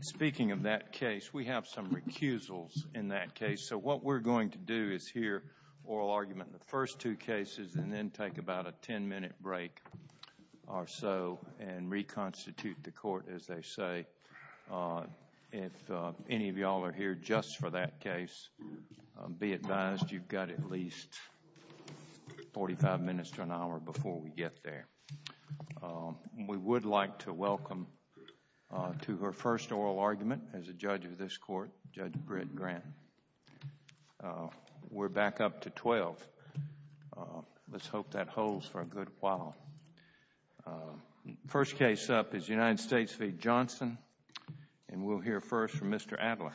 Speaking of that case, we have some recusals in that case, so what we're going to do is hear oral argument in the first two cases and then take about a 10-minute break or so and reconstitute the court, as they say. If any of y'all are here just for that case, be advised you've got at least 45 minutes or an hour before we get there. We would like to welcome to her first oral argument as a judge of this court, Judge Britt Grant. We're back up to 12. Let's hope that holds for a good while. The first case up is United States v. Johnson, and we'll hear first from Mr. Adler.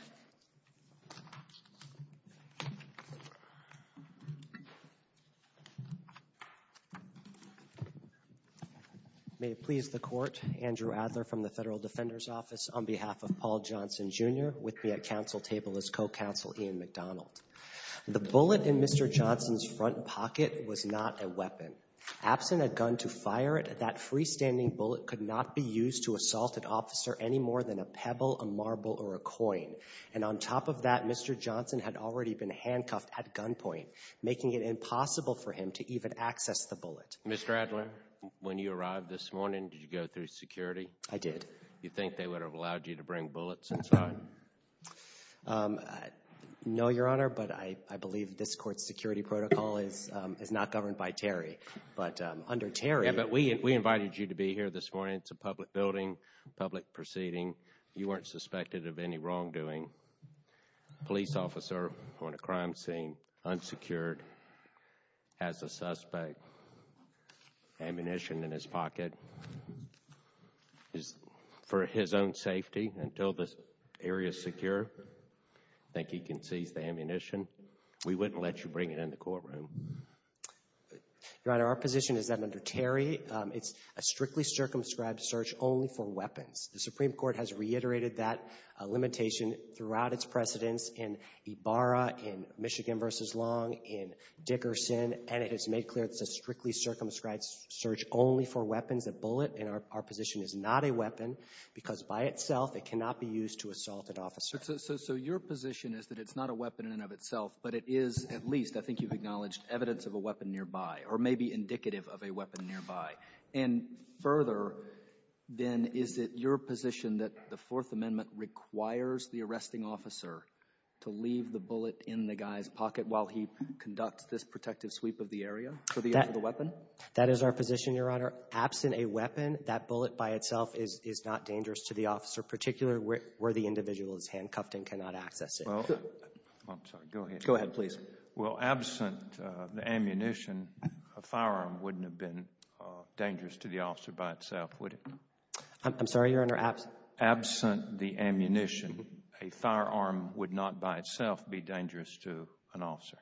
May it please the Court, Andrew Adler from the Federal Defender's Office on behalf of Paul Johnson, Jr. with me at counsel table as co-counsel Ian McDonald. The bullet in Mr. Johnson's front pocket was not a weapon. Absent a gun to fire it, that freestanding bullet could not be used to assault an officer any more than a pebble, a marble, or a coin. And on top of that, Mr. Johnson had already been handcuffed at gunpoint, making it impossible for him to even access the bullet. Mr. Adler, when you arrived this morning, did you go through security? I did. You think they would have allowed you to bring bullets inside? No, Your Honor, but I believe this court's security protocol is not governed by Terry. But under Terry... Yeah, but we invited you to be here this morning. It's a public building, public proceeding. You weren't suspected of any wrongdoing. Police officer on a crime scene, unsecured, has a suspect, ammunition in his pocket, for his own safety, until this area is secure, I think he can seize the ammunition. We wouldn't let you bring it in the courtroom. Your Honor, our position is that under Terry, it's a strictly circumscribed search only for weapons. The Supreme Court has reiterated that limitation throughout its precedence in Ibarra, in Michigan v. Long, in Dickerson, and it has made clear it's a strictly circumscribed search only for weapons. That means a bullet in our position is not a weapon, because by itself it cannot be used to assault an officer. So your position is that it's not a weapon in and of itself, but it is at least, I think you've acknowledged, evidence of a weapon nearby, or maybe indicative of a weapon nearby. And further, then, is it your position that the Fourth Amendment requires the arresting officer to leave the bullet in the guy's pocket while he conducts this protective sweep of the area for the weapon? That is our position, Your Honor. Absent a weapon, that bullet by itself is not dangerous to the officer, particularly where the individual is handcuffed and cannot access it. Well, I'm sorry. Go ahead. Go ahead, please. Well, absent the ammunition, a firearm wouldn't have been dangerous to the officer by itself, would it? I'm sorry, Your Honor. Absent the ammunition, a firearm would not by itself be dangerous to an officer.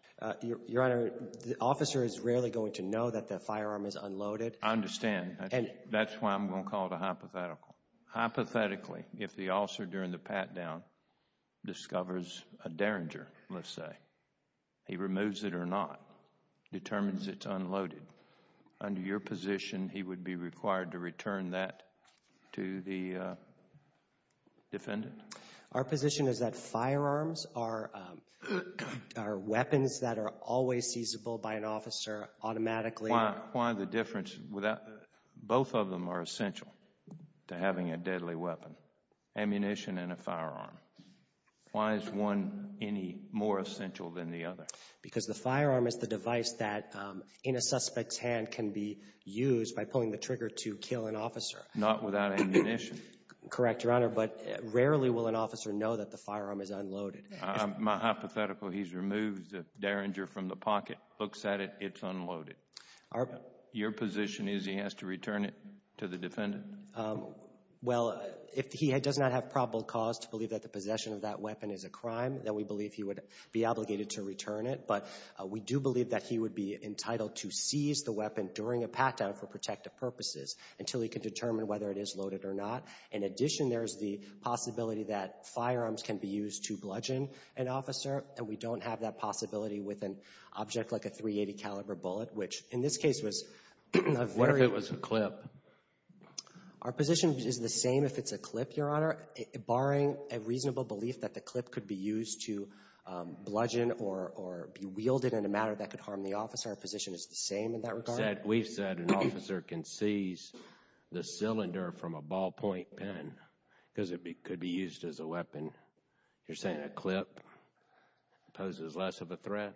Your Honor, the officer is rarely going to know that the firearm is unloaded. I understand. That's why I'm going to call it a hypothetical. Hypothetically, if the officer during the pat-down discovers a Derringer, let's say, he removes it or not, determines it's unloaded, under your position, he would be required to return that to the defendant? Our position is that firearms are weapons that are always seizable by an officer automatically. Why the difference? Both of them are essential to having a deadly weapon, ammunition and a firearm. Why is one any more essential than the other? Because the firearm is the device that in a suspect's hand can be used by pulling the trigger to kill an officer. Not without ammunition. Correct, Your Honor. But rarely will an officer know that the firearm is unloaded. My hypothetical, he's removed the Derringer from the pocket, looks at it, it's unloaded. Your position is he has to return it to the defendant? Well, if he does not have probable cause to believe that the possession of that weapon is a crime, then we believe he would be obligated to return it. But we do believe that he would be entitled to seize the weapon during a pat-down for protective purposes until he can determine whether it is loaded or not. In addition, there is the possibility that firearms can be used to bludgeon an officer, and we don't have that possibility with an object like a .380 caliber bullet, which in this case was a very What if it was a clip? Our position is the same if it's a clip, Your Honor, barring a reasonable belief that the clip could be used to bludgeon or be wielded in a manner that could harm the officer. Our position is the same in that regard. We've said an officer can seize the cylinder from a ballpoint pen because it could be used as a weapon. You're saying a clip poses less of a threat?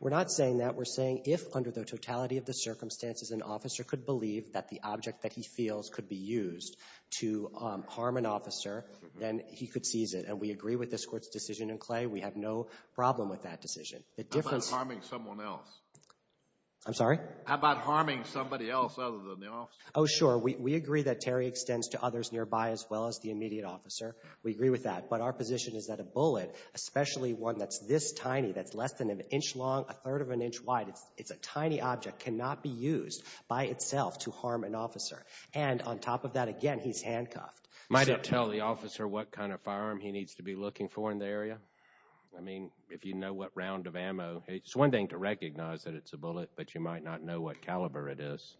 We're not saying that. We're saying if, under the totality of the circumstances, an officer could believe that the object that he feels could be used to harm an officer, then he could seize it. And we agree with this Court's decision in Clay. We have no problem with that decision. How about harming someone else? I'm sorry? How about harming somebody else other than the officer? Oh, sure. We agree that Terry extends to others nearby as well as the immediate officer. We agree with that. But our position is that a bullet, especially one that's this tiny, that's less than an inch long, a third of an inch wide, it's a tiny object, cannot be used by itself to harm an officer. And on top of that, again, he's handcuffed. Might it tell the officer what kind of firearm he needs to be looking for in the area? I mean, if you know what round of ammo, it's one thing to recognize that it's a bullet, but you might not know what caliber it is.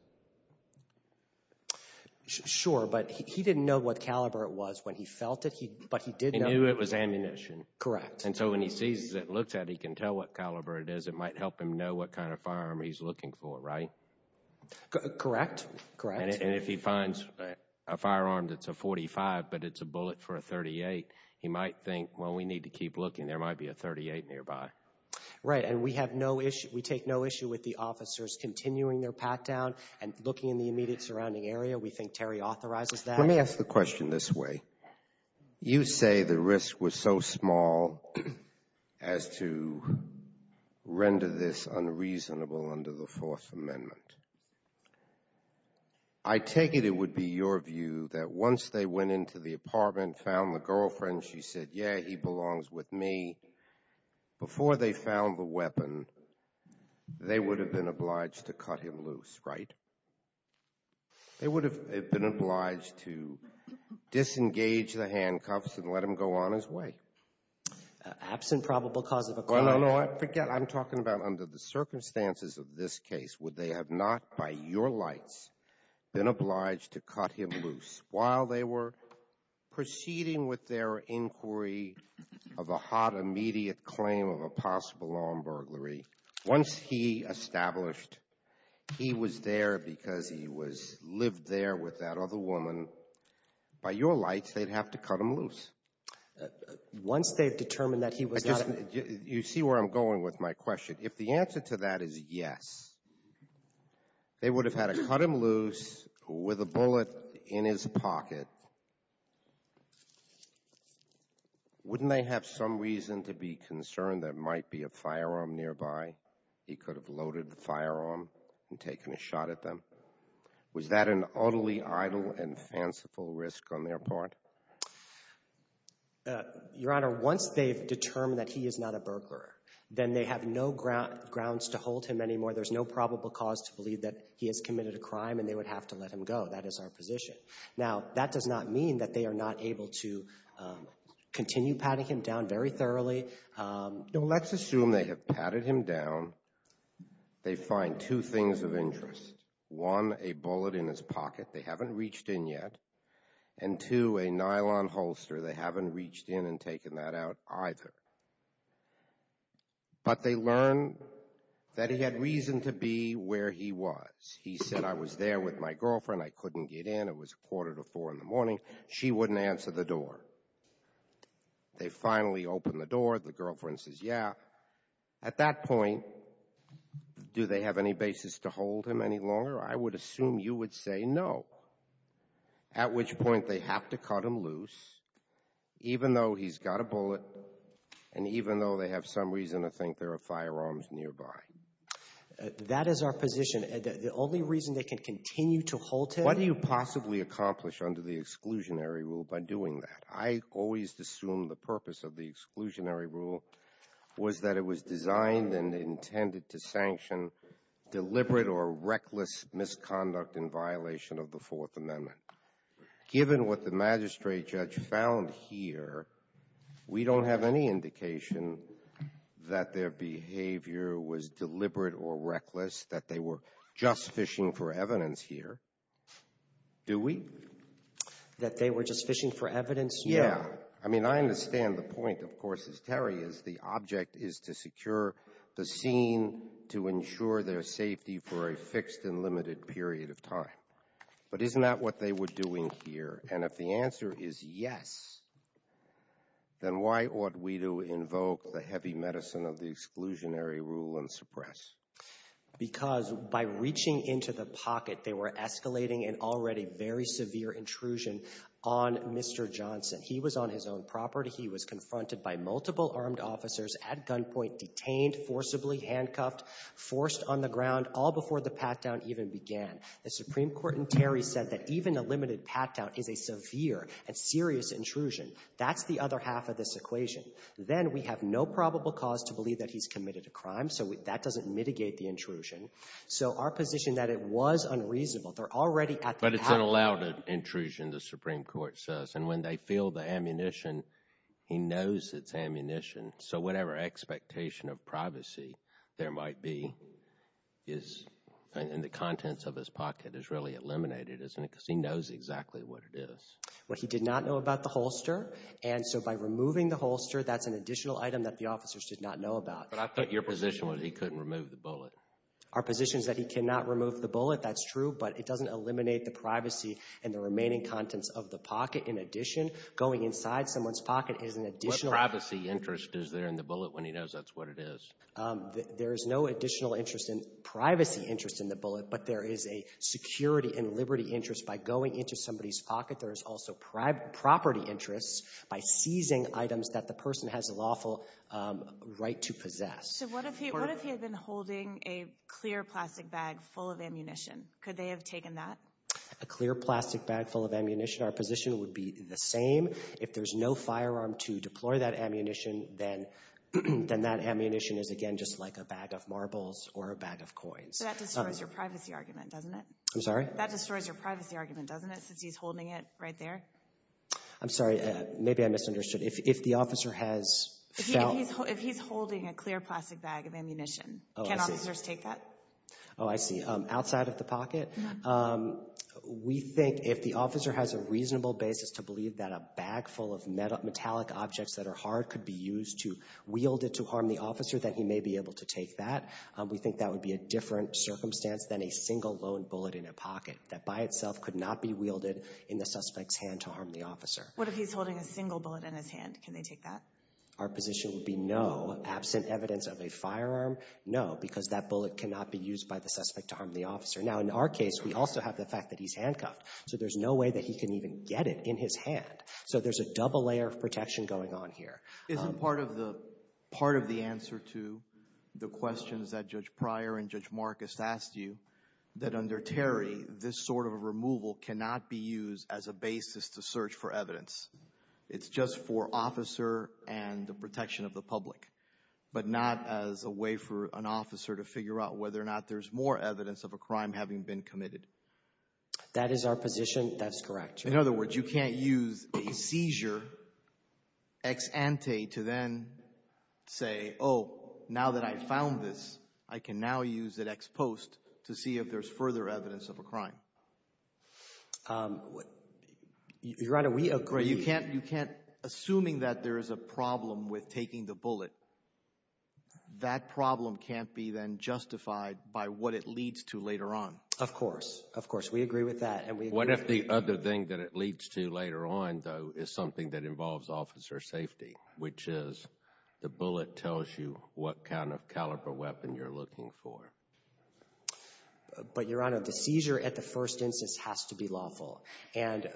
Sure, but he didn't know what caliber it was when he felt it, but he did know... He knew it was ammunition. Correct. And so when he sees it, looks at it, he can tell what caliber it is. It might help him know what kind of firearm he's looking for, right? Correct. Correct. And if he finds a firearm that's a .45, but it's a bullet for a .38, he might think, well, we need to keep looking. There might be a .38 nearby. Right. And we have no issue... We take no issue with the officers continuing their pat-down and looking in the immediate surrounding area. We think Terry authorizes that. Let me ask the question this way. You say the risk was so small as to render this unreasonable under the Fourth Amendment. I take it it would be your view that once they went into the apartment, found the girlfriend, she said, yeah, he belongs with me. Before they found the weapon, they would have been obliged to cut him loose, right? They would have been obliged to disengage the handcuffs and let him go on his way. Absent probable cause of occurrence. No, no, no. I forget. I'm talking about under the circumstances of this case. Would they have not, by your lights, been obliged to cut him loose while they were proceeding with their inquiry of a hot, immediate claim of a possible law and burglary? Once he established he was there because he lived there with that other woman, by your lights they'd have to cut him loose. Once they've determined that he was not... You see where I'm going with my question. If the answer to that is yes, they would have had to cut him loose with a bullet in his Wouldn't they have some reason to be concerned there might be a firearm nearby? He could have loaded the firearm and taken a shot at them. Was that an utterly idle and fanciful risk on their part? Your Honor, once they've determined that he is not a burglar, then they have no grounds to hold him anymore. There's no probable cause to believe that he has committed a crime and they would have to let him go. That is our position. Now, that does not mean that they are not able to continue patting him down very thoroughly. Let's assume they have patted him down. They find two things of interest. One, a bullet in his pocket they haven't reached in yet. And two, a nylon holster they haven't reached in and taken that out either. But they learn that he had reason to be where he was. He said, I was there with my girlfriend, I couldn't get in. It was a quarter to four in the morning. She wouldn't answer the door. They finally open the door, the girlfriend says, yeah. At that point, do they have any basis to hold him any longer? I would assume you would say no. At which point they have to cut him loose, even though he's got a bullet, and even though they have some reason to think there are firearms nearby. That is our position. The only reason they can continue to hold him. What do you possibly accomplish under the exclusionary rule by doing that? I always assumed the purpose of the exclusionary rule was that it was designed and intended to sanction deliberate or reckless misconduct in violation of the Fourth Amendment. Given what the magistrate judge found here, we don't have any indication that their behavior was deliberate or reckless, that they were just fishing for evidence here. Do we? That they were just fishing for evidence? Yeah. I mean, I understand the point, of course, as Terry is, the object is to secure the scene to ensure their safety for a fixed and limited period of time. But isn't that what they were doing here? And if the answer is yes, then why ought we to invoke the heavy medicine of the exclusionary rule and suppress? Because by reaching into the pocket, they were escalating an already very severe intrusion on Mr. Johnson. He was on his own property. He was confronted by multiple armed officers, at gunpoint, detained, forcibly handcuffed, forced on the ground, all before the pat-down even began. The Supreme Court in Terry said that even a limited pat-down is a severe and serious intrusion. That's the other half of this equation. Then we have no probable cause to believe that he's committed a crime, so that doesn't mitigate the intrusion. So our position that it was unreasonable, they're already at the pat-down. But it's an allowed intrusion, the Supreme Court says. And when they feel the ammunition, he knows it's ammunition. So whatever expectation of privacy there might be in the contents of his pocket is really eliminated, isn't it? Because he knows exactly what it is. Well, he did not know about the holster. And so by removing the holster, that's an additional item that the officers did not know about. But I thought your position was he couldn't remove the bullet. Our position is that he cannot remove the bullet, that's true. But it doesn't eliminate the privacy and the remaining contents of the pocket. In addition, going inside someone's pocket is an additional... Privacy interest is there in the bullet when he knows that's what it is. There is no additional interest in privacy interest in the bullet, but there is a security and liberty interest by going into somebody's pocket. There is also property interest by seizing items that the person has a lawful right to possess. So what if he had been holding a clear plastic bag full of ammunition? Could they have taken that? A clear plastic bag full of ammunition, our position would be the same. If there's no firearm to deploy that ammunition, then that ammunition is, again, just like a bag of marbles or a bag of coins. So that destroys your privacy argument, doesn't it? I'm sorry? That destroys your privacy argument, doesn't it, since he's holding it right there? I'm sorry. Maybe I misunderstood. If the officer has felt... If he's holding a clear plastic bag of ammunition, can officers take that? Oh, I see. Outside of the pocket? No. We think if the officer has a reasonable basis to believe that a bag full of metallic objects that are hard could be used to wield it to harm the officer, that he may be able to take that. We think that would be a different circumstance than a single lone bullet in a pocket that by itself could not be wielded in the suspect's hand to harm the officer. What if he's holding a single bullet in his hand? Can they take that? Our position would be no. Absent evidence of a firearm, no, because that bullet cannot be used by the suspect to harm the officer. Now, in our case, we also have the fact that he's handcuffed, so there's no way that he can even get it in his hand. So there's a double layer of protection going on here. Isn't part of the answer to the questions that Judge Pryor and Judge Marcus asked you that under Terry, this sort of removal cannot be used as a basis to search for evidence? It's just for officer and the protection of the public, but not as a way for an officer to figure out whether or not there's more evidence of a crime having been committed. That is our position. That's correct. In other words, you can't use a seizure ex ante to then say, oh, now that I've found this, I can now use it ex post to see if there's further evidence of a crime. Your Honor, we agree. You can't, assuming that there is a problem with taking the bullet, that problem can't be then justified by what it leads to later on. Of course. Of course. We agree with that. What if the other thing that it leads to later on, though, is something that involves officer safety, which is the bullet tells you what kind of caliber weapon you're looking for? But, Your Honor, the seizure at the first instance has to be lawful, and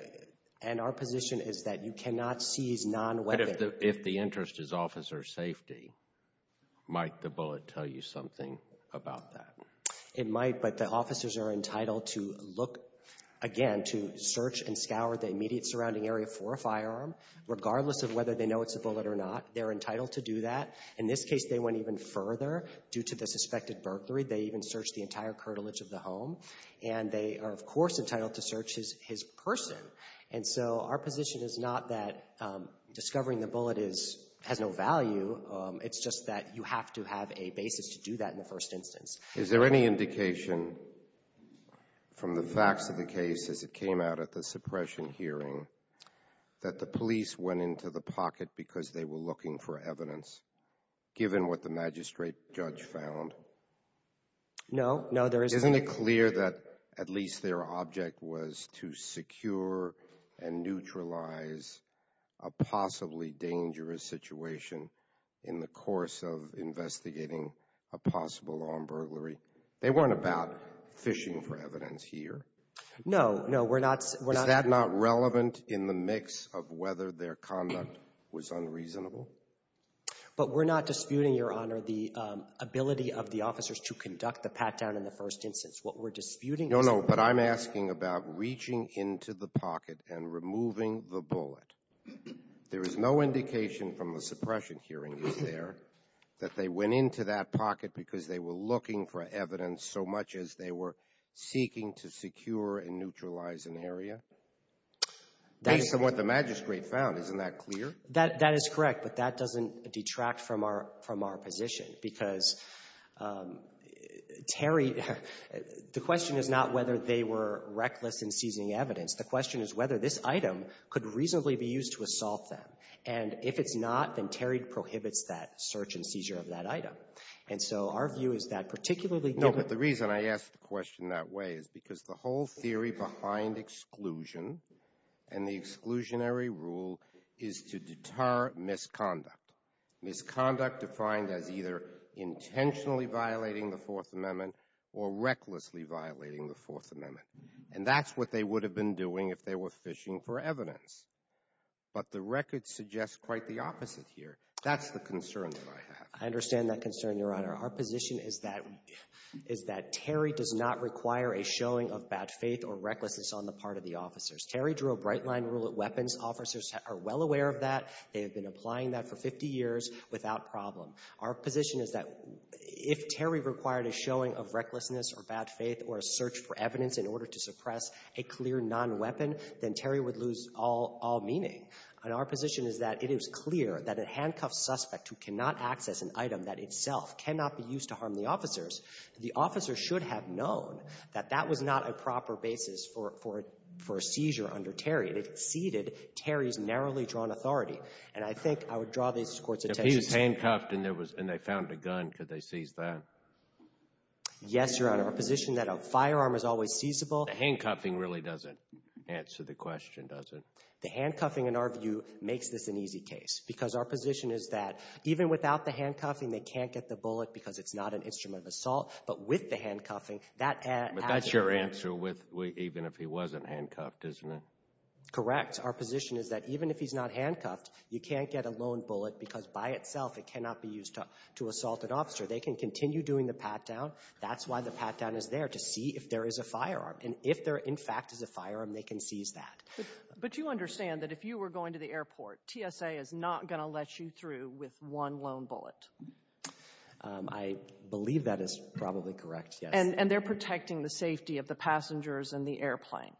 our position is that you cannot seize non-weapon. But if the interest is officer safety, might the bullet tell you something about that? It might, but the officers are entitled to look, again, to search and scour the immediate surrounding area for a firearm, regardless of whether they know it's a bullet or not. They're entitled to do that. In this case, they went even further due to the suspected burglary. They even searched the entire curtilage of the home, and they are, of course, entitled to search his person. And so our position is not that discovering the bullet has no value. It's just that you have to have a basis to do that in the first instance. Is there any indication from the facts of the case as it came out at the suppression hearing that the police went into the pocket because they were looking for evidence, given what the magistrate judge found? No. No, there isn't. Isn't it clear that at least their object was to secure and neutralize a possibly dangerous situation in the course of investigating a possible armed burglary? They weren't about fishing for evidence here. No. No, we're not. Is that not relevant in the mix of whether their conduct was unreasonable? But we're not disputing, Your Honor, the ability of the officers to conduct the pat-down in the first instance. What we're disputing is the ability of the officers to conduct the pat-down in the first instance. No, no, but I'm asking about reaching into the pocket and removing the bullet. There is no indication from the suppression hearings there that they went into that pocket because they were looking for evidence so much as they were seeking to secure and neutralize an area, at least from what the magistrate found. Isn't that clear? That is correct. But that doesn't detract from our position, because Terry — the question is not whether they were reckless in seizing evidence. The question is whether this item could reasonably be used to assault them. And if it's not, then Terry prohibits that search and seizure of that item. And so our view is that particularly given — No, but the reason I ask the question that way is because the whole theory behind exclusion and the exclusionary rule is to deter misconduct. Misconduct defined as either intentionally violating the Fourth Amendment or recklessly violating the Fourth Amendment. And that's what they would have been doing if they were fishing for evidence. But the record suggests quite the opposite here. That's the concern that I have. I understand that concern, Your Honor. Our position is that — is that Terry does not require a showing of bad faith or recklessness on the part of the officers. Terry drew a bright-line rule at weapons. Officers are well aware of that. They have been applying that for 50 years without problem. Our position is that if Terry required a showing of recklessness or bad faith or a search for evidence in order to suppress a clear non-weapon, then Terry would lose all — all meaning. And our position is that it is clear that a handcuffed suspect who cannot access an item that itself cannot be used to harm the officers, the officer should have known that that was not a proper basis for — for a seizure under Terry. It exceeded Terry's narrowly drawn authority. And I think I would draw this Court's attention to — If he was handcuffed and there was — and they found a gun, could they seize that? Yes, Your Honor. Our position that a firearm is always seizable — The handcuffing really doesn't answer the question, does it? The handcuffing, in our view, makes this an easy case because our position is that even without the handcuffing, they can't get the bullet because it's not an instrument of assault. But with the handcuffing, that — But that's your answer with — even if he wasn't handcuffed, isn't it? Correct. Our position is that even if he's not handcuffed, you can't get a lone bullet because by itself it cannot be used to — to assault an officer. They can continue doing the pat-down. That's why the pat-down is there, to see if there is a firearm. And if there, in fact, is a firearm, they can seize that. But you understand that if you were going to the airport, TSA is not going to let you through with one lone bullet. I believe that is probably correct, yes. And they're protecting the safety of the passengers and the airplane.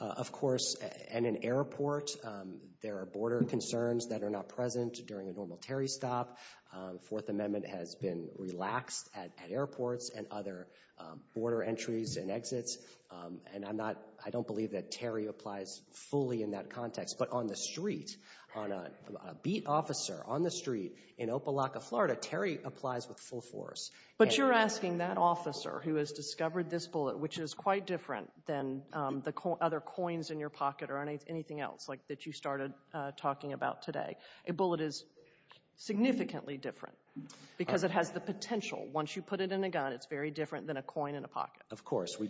Of course. And in airports, there are border concerns that are not present during a normal Terry stop. Fourth Amendment has been relaxed at airports and other border entries and exits. And I'm not — I don't believe that Terry applies fully in that context. But on the street, on a beat officer on the street in Opa-locka, Florida, Terry applies with full force. But you're asking that officer who has discovered this bullet, which is quite different than the other coins in your pocket or anything else, like that you started talking about today. A bullet is significantly different because it has the potential. Once you put it in a gun, it's very different than a coin in a pocket. Of course. So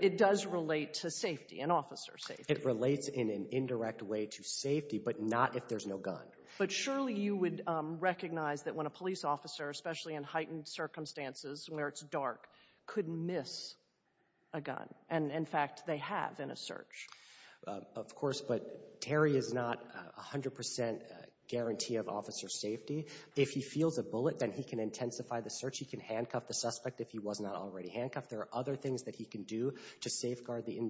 it does relate to safety, an officer's safety. It relates in an indirect way to safety, but not if there's no gun. But surely you would recognize that when a police officer, especially in heightened circumstances where it's dark, could miss a gun. And, in fact, they have in a search. Of course. But Terry is not 100 percent guarantee of officer safety. If he feels a bullet, then he can intensify the search. He can handcuff the suspect if he was not already handcuffed. There are other things that he can do to safeguard the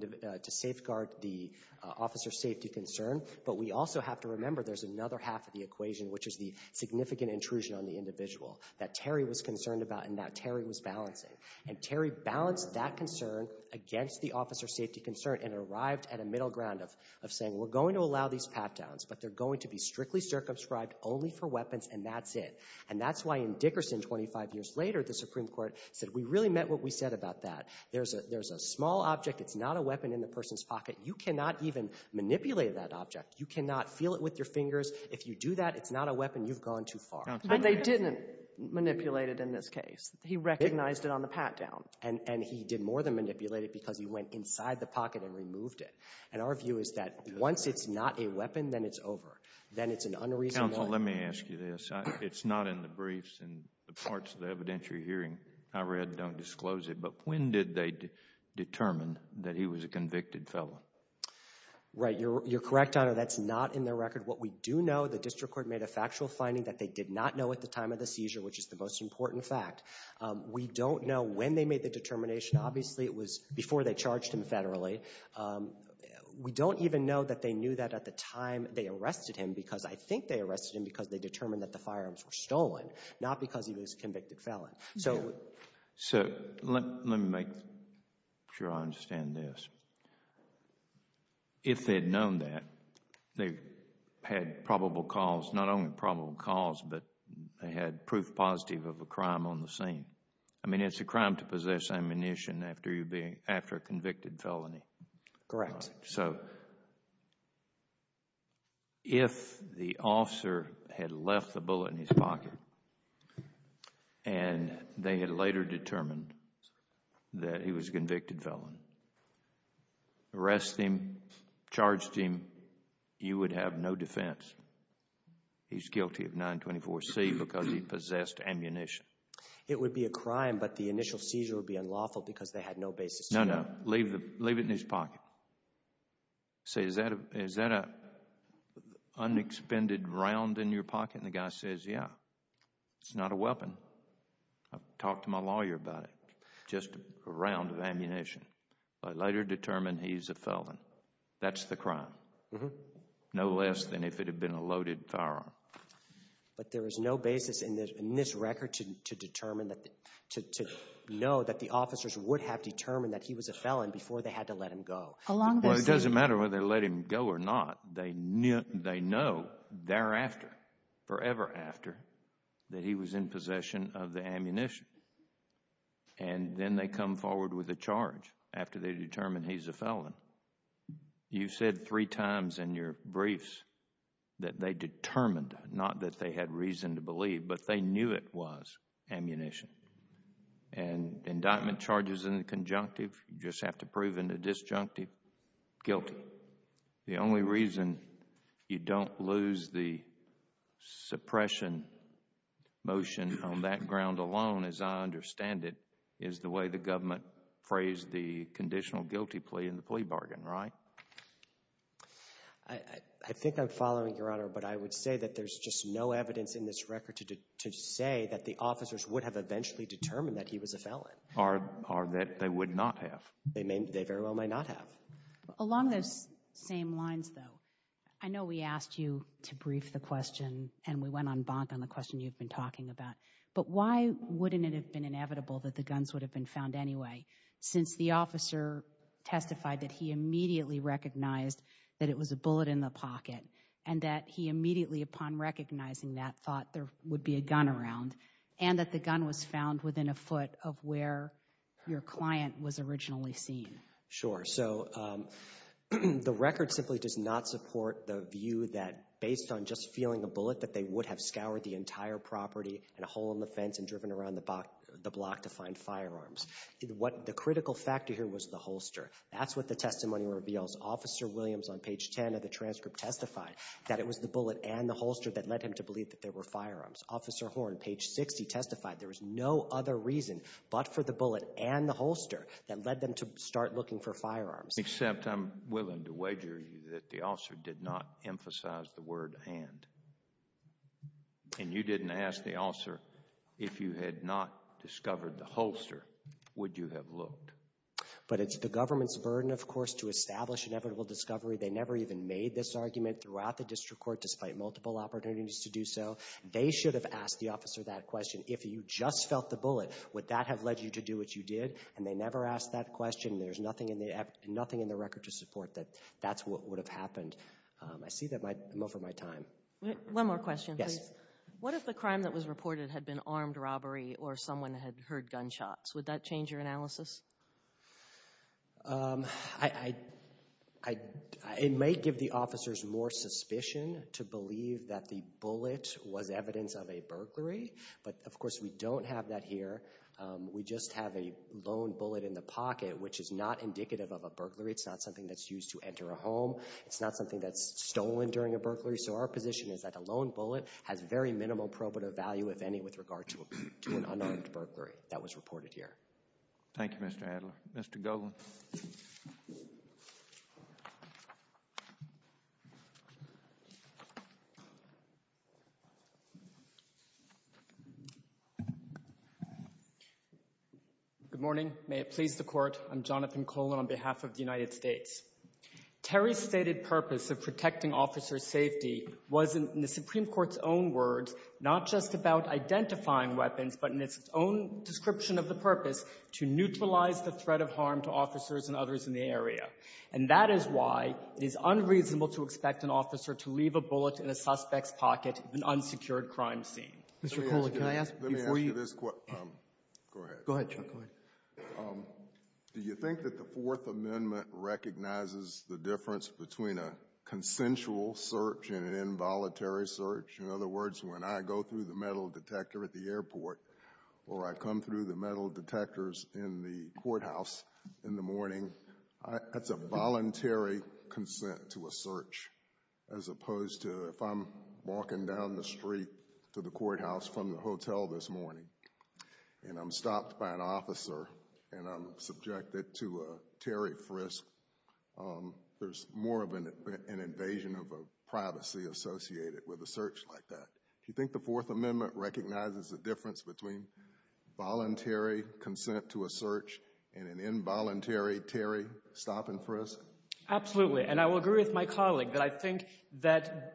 officer's safety concern. But we also have to remember there's another half of the equation, which is the significant intrusion on the individual that Terry was concerned about and that Terry was balancing. And Terry balanced that concern against the officer's safety concern and arrived at a middle ground of saying, we're going to allow these pat-downs, but they're going to be strictly circumscribed only for weapons, and that's it. And that's why in Dickerson, 25 years later, the Supreme Court said, we really meant what we said about that. There's a small object. It's not a weapon in the person's pocket. You cannot even manipulate that object. You cannot feel it with your fingers. If you do that, it's not a weapon. You've gone too far. But they didn't manipulate it in this case. He recognized it on the pat-down. And he did more than manipulate it because he went inside the pocket and removed it. And our view is that once it's not a weapon, then it's over. Then it's an unreasonable— Counsel, let me ask you this. It's not in the briefs and the parts of the evidence you're hearing. I read, don't disclose it, but when did they determine that he was a convicted felon? Right, you're correct, Your Honor, that's not in their record. What we do know, the district court made a factual finding that they did not know at the time of the seizure, which is the most important fact. We don't know when they made the determination. Obviously, it was before they charged him federally. We don't even know that they knew that at the time they arrested him because I think they arrested him because they determined that the firearms were stolen, not because he was a convicted felon. So let me make sure I understand this. If they had known that, they had probable cause, not only probable cause, but they had proof positive of a crime on the scene. I mean, it's a crime to possess ammunition after a convicted felony. Correct. Correct. So if the officer had left the bullet in his pocket and they had later determined that he was a convicted felon, arrested him, charged him, you would have no defense. He's guilty of 924C because he possessed ammunition. It would be a crime, but the initial seizure would be unlawful because they had no basis. No, no. Leave it in his pocket. Say, is that an unexpended round in your pocket? And the guy says, yeah, it's not a weapon. I've talked to my lawyer about it, just a round of ammunition. I later determined he's a felon. That's the crime, no less than if it had been a loaded firearm. But there is no basis in this record to know that the officers would have determined that he was a felon before they had to let him go. Well, it doesn't matter whether they let him go or not. They know thereafter, forever after, that he was in possession of the ammunition. And then they come forward with a charge after they determine he's a felon. You said three times in your briefs that they determined, not that they had reason to believe, but they knew it was ammunition. And indictment charges in the conjunctive, you just have to prove in the disjunctive, guilty. The only reason you don't lose the suppression motion on that ground alone, as I understand it, is the way the government phrased the conditional guilty plea in the plea bargain, right? I think I'm following, Your Honor, but I would say that there's just no evidence in this record to say that the officers would have eventually determined that he was a felon. Or that they would not have. They very well might not have. Along those same lines, though, I know we asked you to brief the question and we went on bonk on the question you've been talking about, but why wouldn't it have been inevitable that the guns would have been found anyway since the officer testified that he immediately recognized that it was a bullet in the pocket and that he immediately, upon recognizing that, thought there would be a gun around and that the gun was found within a foot of where your client was originally seen? Sure. So the record simply does not support the view that, based on just feeling a bullet, that they would have scoured the entire property and a hole in the fence and driven around the block to find firearms. The critical factor here was the holster. That's what the testimony reveals. Officer Williams on page 10 of the transcript testified that it was the bullet and the holster that led him to believe that there were firearms. Officer Horne, page 60, testified there was no other reason but for the bullet and the holster that led them to start looking for firearms. Except I'm willing to wager that the officer did not emphasize the word and. And you didn't ask the officer if you had not discovered the holster, would you have looked? But it's the government's burden, of course, to establish inevitable discovery. They never even made this argument throughout the district court, despite multiple opportunities to do so. They should have asked the officer that question. If you just felt the bullet, would that have led you to do what you did? And they never asked that question. There's nothing in the record to support that that's what would have happened. I see that I'm over my time. One more question, please. What if the crime that was reported had been armed robbery or someone had heard gunshots? Would that change your analysis? It may give the officers more suspicion to believe that the bullet was evidence of a burglary. But, of course, we don't have that here. We just have a lone bullet in the pocket, which is not indicative of a burglary. It's not something that's used to enter a home. It's not something that's stolen during a burglary. So our position is that a lone bullet has very minimal probative value, if any, with regard to an unarmed burglary that was reported here. Thank you, Mr. Adler. Mr. Golan. Good morning. May it please the Court. I'm Jonathan Golan on behalf of the United States. Terry's stated purpose of protecting officers' safety was, in the Supreme Court's own words, not just about identifying weapons, but in its own description of the purpose, to neutralize the threat of harm to officers and others in the area. And that is why it is unreasonable to expect an officer to leave a bullet in a suspect's pocket in an unsecured crime scene. Mr. Golan, can I ask before you ---- Let me ask you this. Go ahead. Go ahead, Chuck. Go ahead. Do you think that the Fourth Amendment recognizes the difference between a consensual search and an involuntary search? In other words, when I go through the metal detector at the airport or I come through the metal detectors in the courthouse in the morning, that's a voluntary consent to a search, as opposed to if I'm walking down the street to the courthouse from the hotel this morning and I'm stopped by an officer and I'm subjected to a Terry frisk, there's more of an invasion of privacy associated with a search like that. Do you think the Fourth Amendment recognizes the difference between voluntary consent to a search and an involuntary Terry stopping frisk? Absolutely. And I will agree with my colleague that I think that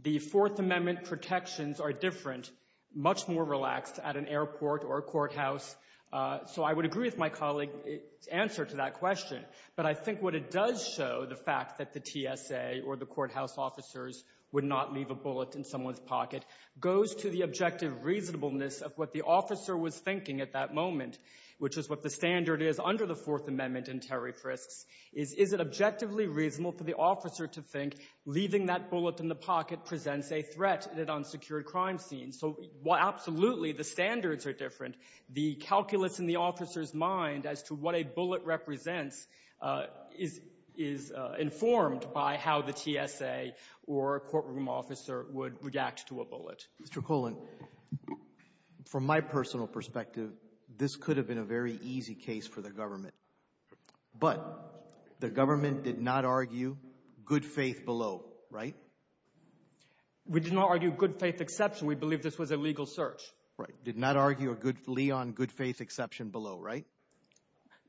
the Fourth Amendment protections are different, much more relaxed at an airport or courthouse. So I would agree with my colleague's answer to that question. But I think what it does show, the fact that the TSA or the courthouse officers would not leave a bullet in someone's pocket, goes to the objective reasonableness of what the officer was thinking at that moment, which is what the standard is under the Fourth Amendment and Terry frisks, is, is it objectively reasonable for the officer to think leaving that bullet in the pocket presents a threat in an unsecured crime scene? So, well, absolutely, the standards are different. The calculus in the officer's mind as to what a bullet represents is, is informed by how the TSA or courtroom officer would react to a bullet. Mr. Colan, from my personal perspective, this could have been a very easy case for the government. But the government did not argue good faith below, right? We did not argue good faith exception. We believe this was a legal search. Right. Did not argue a good, Leon, good faith exception below, right?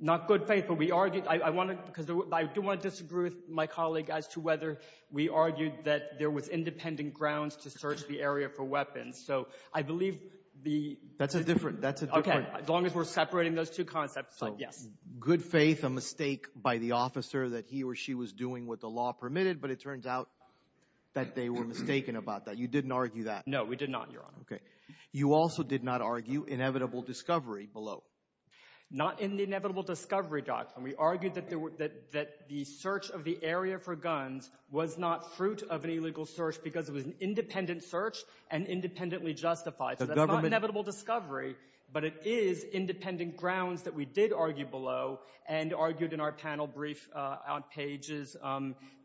Not good faith, but we argued, I want to, because I do want to disagree with my colleague as to whether we argued that there was independent grounds to search the area for weapons. So I believe the. That's a different, that's a different. Okay, as long as we're separating those two concepts, yes. So good faith, a mistake by the officer that he or she was doing what the law permitted, but it turns out that they were mistaken about that. You didn't argue that. No, we did not, Your Honor. Okay. You also did not argue inevitable discovery below. Not in the inevitable discovery document. We argued that the search of the area for guns was not fruit of an illegal search because it was an independent search and independently justified. So that's not inevitable discovery, but it is independent grounds that we did argue below and argued in our panel brief on pages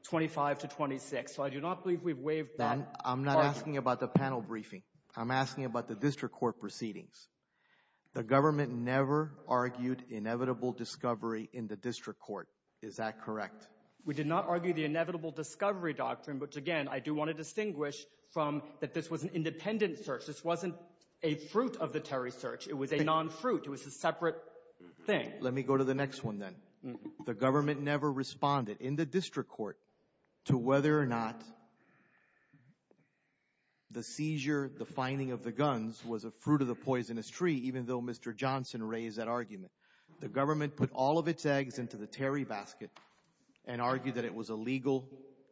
25 to 26. So I do not believe we've waived that. I'm not asking about the panel briefing. I'm asking about the district court proceedings. The government never argued inevitable discovery in the district court. Is that correct? We did not argue the inevitable discovery doctrine, which, again, I do want to distinguish from that this was an independent search. This wasn't a fruit of the Terry search. It was a non-fruit. It was a separate thing. Let me go to the next one then. The government never responded in the district court to whether or not the seizure, the finding of the guns was a fruit of the poisonous tree, even though Mr. Johnson raised that argument. The government put all of its eggs into the Terry basket and argued that it was a legal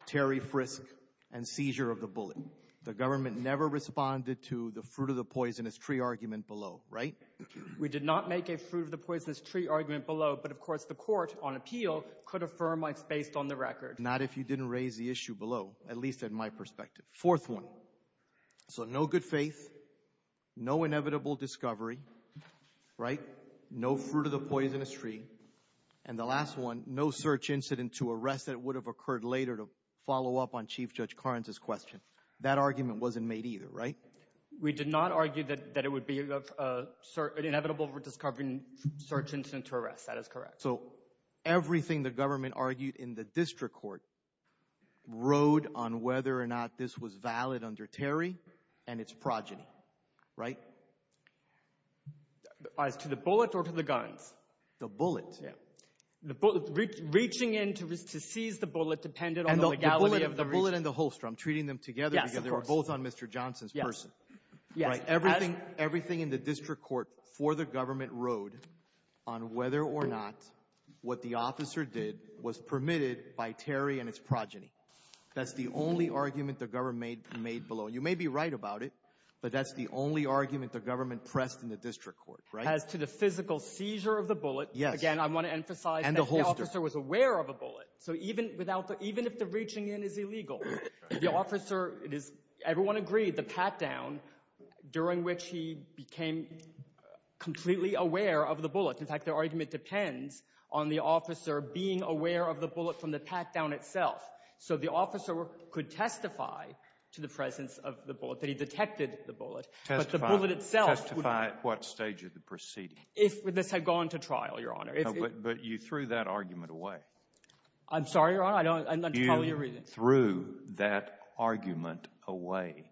Terry frisk and seizure of the bullet. The government never responded to the fruit of the poisonous tree argument below, right? We did not make a fruit of the poisonous tree argument below, but, of course, the court on appeal could affirm what's based on the record. Not if you didn't raise the issue below, at least in my perspective. Fourth one. So no good faith, no inevitable discovery, right? No fruit of the poisonous tree. And the last one, no search incident to arrest that would have occurred later to follow up on Chief Judge Karnes' question. That argument wasn't made either, right? We did not argue that it would be an inevitable discovery and search incident to arrest. That is correct. So everything the government argued in the district court rode on whether or not this was valid under Terry and its progeny, right? As to the bullet or to the guns? The bullet. Reaching in to seize the bullet depended on the legality of the region. The bullet and the holster, I'm treating them together because they were both on Mr. Johnson's person. Everything in the district court for the government rode on whether or not what the officer did was permitted by Terry and its progeny. That's the only argument the government made below. You may be right about it, but that's the only argument the government pressed in the district court, right? As to the physical seizure of the bullet, again, I want to emphasize that the officer was aware of a bullet. So even if the reaching in is illegal, the officer, everyone agreed, the pat-down, during which he became completely aware of the bullet. In fact, the argument depends on the officer being aware of the bullet from the pat-down itself. So the officer could testify to the presence of the bullet, that he detected the bullet. Testify at what stage of the proceeding? If this had gone to trial, Your Honor. But you threw that argument away. I'm sorry, Your Honor. I'm not following your reasoning. You threw that argument away.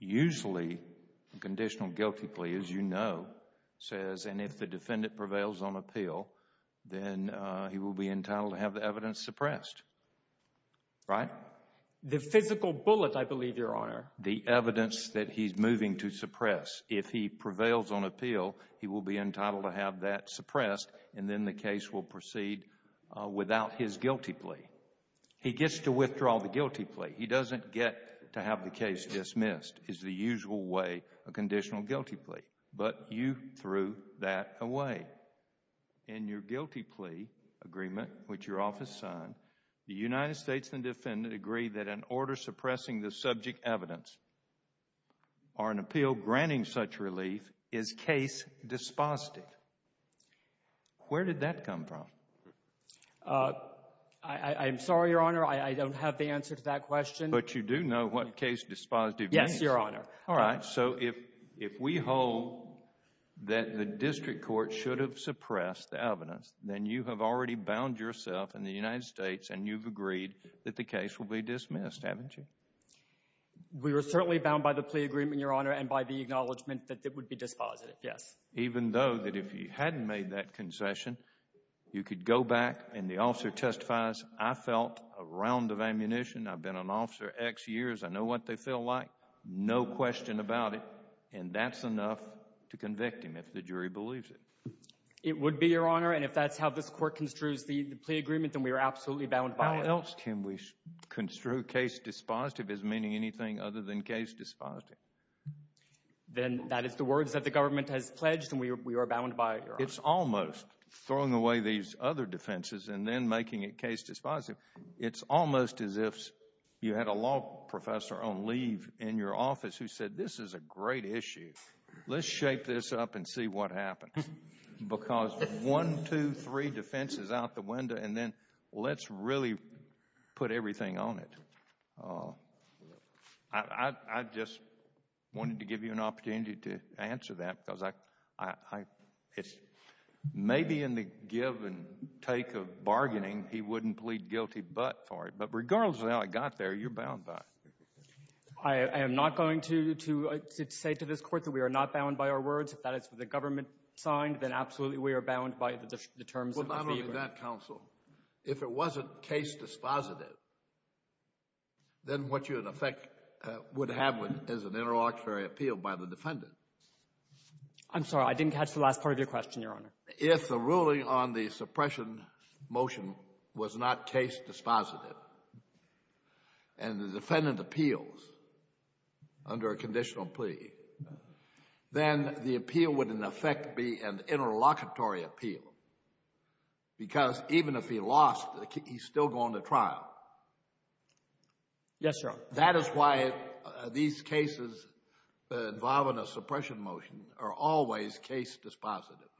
Usually, conditional guilty plea, as you know, says, and if the defendant prevails on appeal, then he will be entitled to have the evidence suppressed, right? The physical bullet, I believe, Your Honor. The evidence that he's moving to suppress. If he prevails on appeal, he will be entitled to have that suppressed, and then the case will proceed without his guilty plea. He gets to withdraw the guilty plea. He doesn't get to have the case dismissed. It's the usual way, a conditional guilty plea. But you threw that away. In your guilty plea agreement, which your office signed, the United States and the defendant agree that an order suppressing the subject evidence or an appeal granting such relief is case dispositive. Where did that come from? I'm sorry, Your Honor. I don't have the answer to that question. But you do know what case dispositive means? Yes, Your Honor. All right. So if we hold that the district court should have suppressed the evidence, then you have already bound yourself in the United States, and you've agreed that the case will be dismissed, haven't you? We were certainly bound by the plea agreement, Your Honor, and by the acknowledgment that it would be dispositive, yes. Even though that if you hadn't made that concession, you could go back and the officer testifies, I felt a round of ammunition, I've been an officer X years, I know what they feel like, no question about it, and that's enough to convict him if the jury believes it. It would be, Your Honor, and if that's how this court construes the plea agreement, then we are absolutely bound by it. How else can we construe case dispositive as meaning anything other than case dispositive? Then that is the words that the government has pledged, and we are bound by it, Your Honor. It's almost throwing away these other defenses and then making it case dispositive. It's almost as if you had a law professor on leave in your office who said, this is a great issue, let's shape this up and see what happens. Because one, two, three defenses out the window, and then let's really put everything on it. I just wanted to give you an opportunity to answer that because I, it's, maybe in the give and take of bargaining, he wouldn't plead guilty but for it, but regardless of how it got there, you're bound by it. I am not going to say to this court that we are not bound by our words, if that is what the government signed, then absolutely we are bound by the terms of the fee agreement. Well, not only that, counsel. If it wasn't case dispositive, then what you in effect would have is an interlocutory appeal by the defendant. I'm sorry. I didn't catch the last part of your question, Your Honor. If the ruling on the suppression motion was not case dispositive and the defendant appealed under a conditional plea, then the appeal would in effect be an interlocutory appeal because even if he lost, he's still going to trial. Yes, Your Honor. That is why these cases involving a suppression motion are always case dispositive,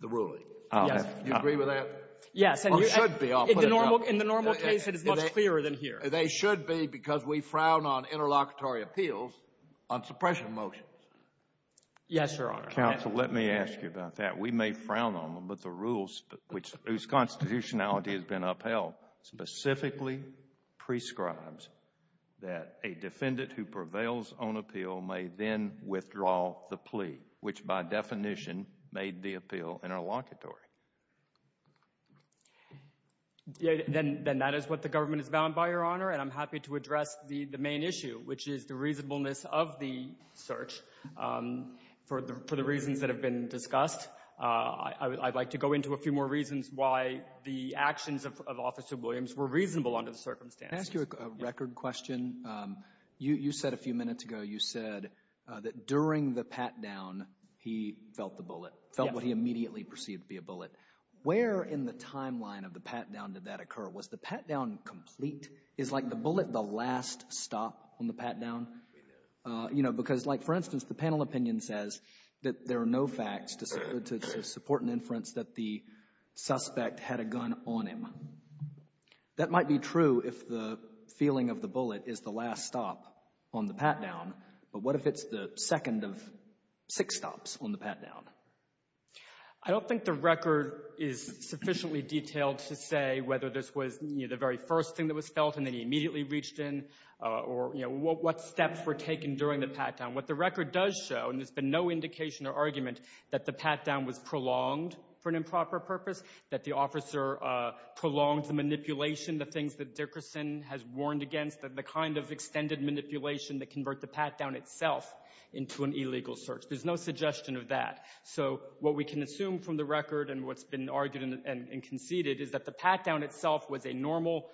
the ruling. Yes. Do you agree with that? Yes. Or should be, I'll put it up. In the normal case, it is much clearer than here. They should be because we frown on interlocutory appeals on suppression motions. Yes, Your Honor. Counsel, let me ask you about that. We may frown on them, but the rules, whose constitutionality has been upheld, specifically prescribes that a defendant who prevails on appeal may then withdraw the plea, which by definition may be appeal interlocutory. Then that is what the government is bound by, Your Honor, and I'm happy to address the main issue, which is the reasonableness of the search for the reasons that have been discussed. I'd like to go into a few more reasons why the actions of Officer Williams were reasonable under the circumstances. Can I ask you a record question? You said a few minutes ago, you said that during the pat-down, he felt the bullet, felt what he immediately perceived to be a bullet. Where in the timeline of the pat-down did that occur? Was the pat-down complete? Is, like, the bullet the last stop on the pat-down? You know, because, like, for instance, the panel opinion says that there are no facts to support an inference that the suspect had a gun on him. That might be true if the feeling of the bullet is the last stop on the pat-down, but what if it's the second of six stops on the pat-down? I don't think the record is sufficiently detailed to say whether this was, you know, the very first thing that was felt and then he immediately reached in or, you know, what steps were taken during the pat-down. What the record does show, and there's been no indication or argument, that the pat-down was prolonged for an improper purpose, that the officer prolonged the manipulation, the things that Dickerson has warned against, the kind of extended manipulation that convert the pat-down itself into an illegal search. There's no suggestion of that. So what we can assume from the record and what's been argued and conceded is that the pat-down itself was a normal,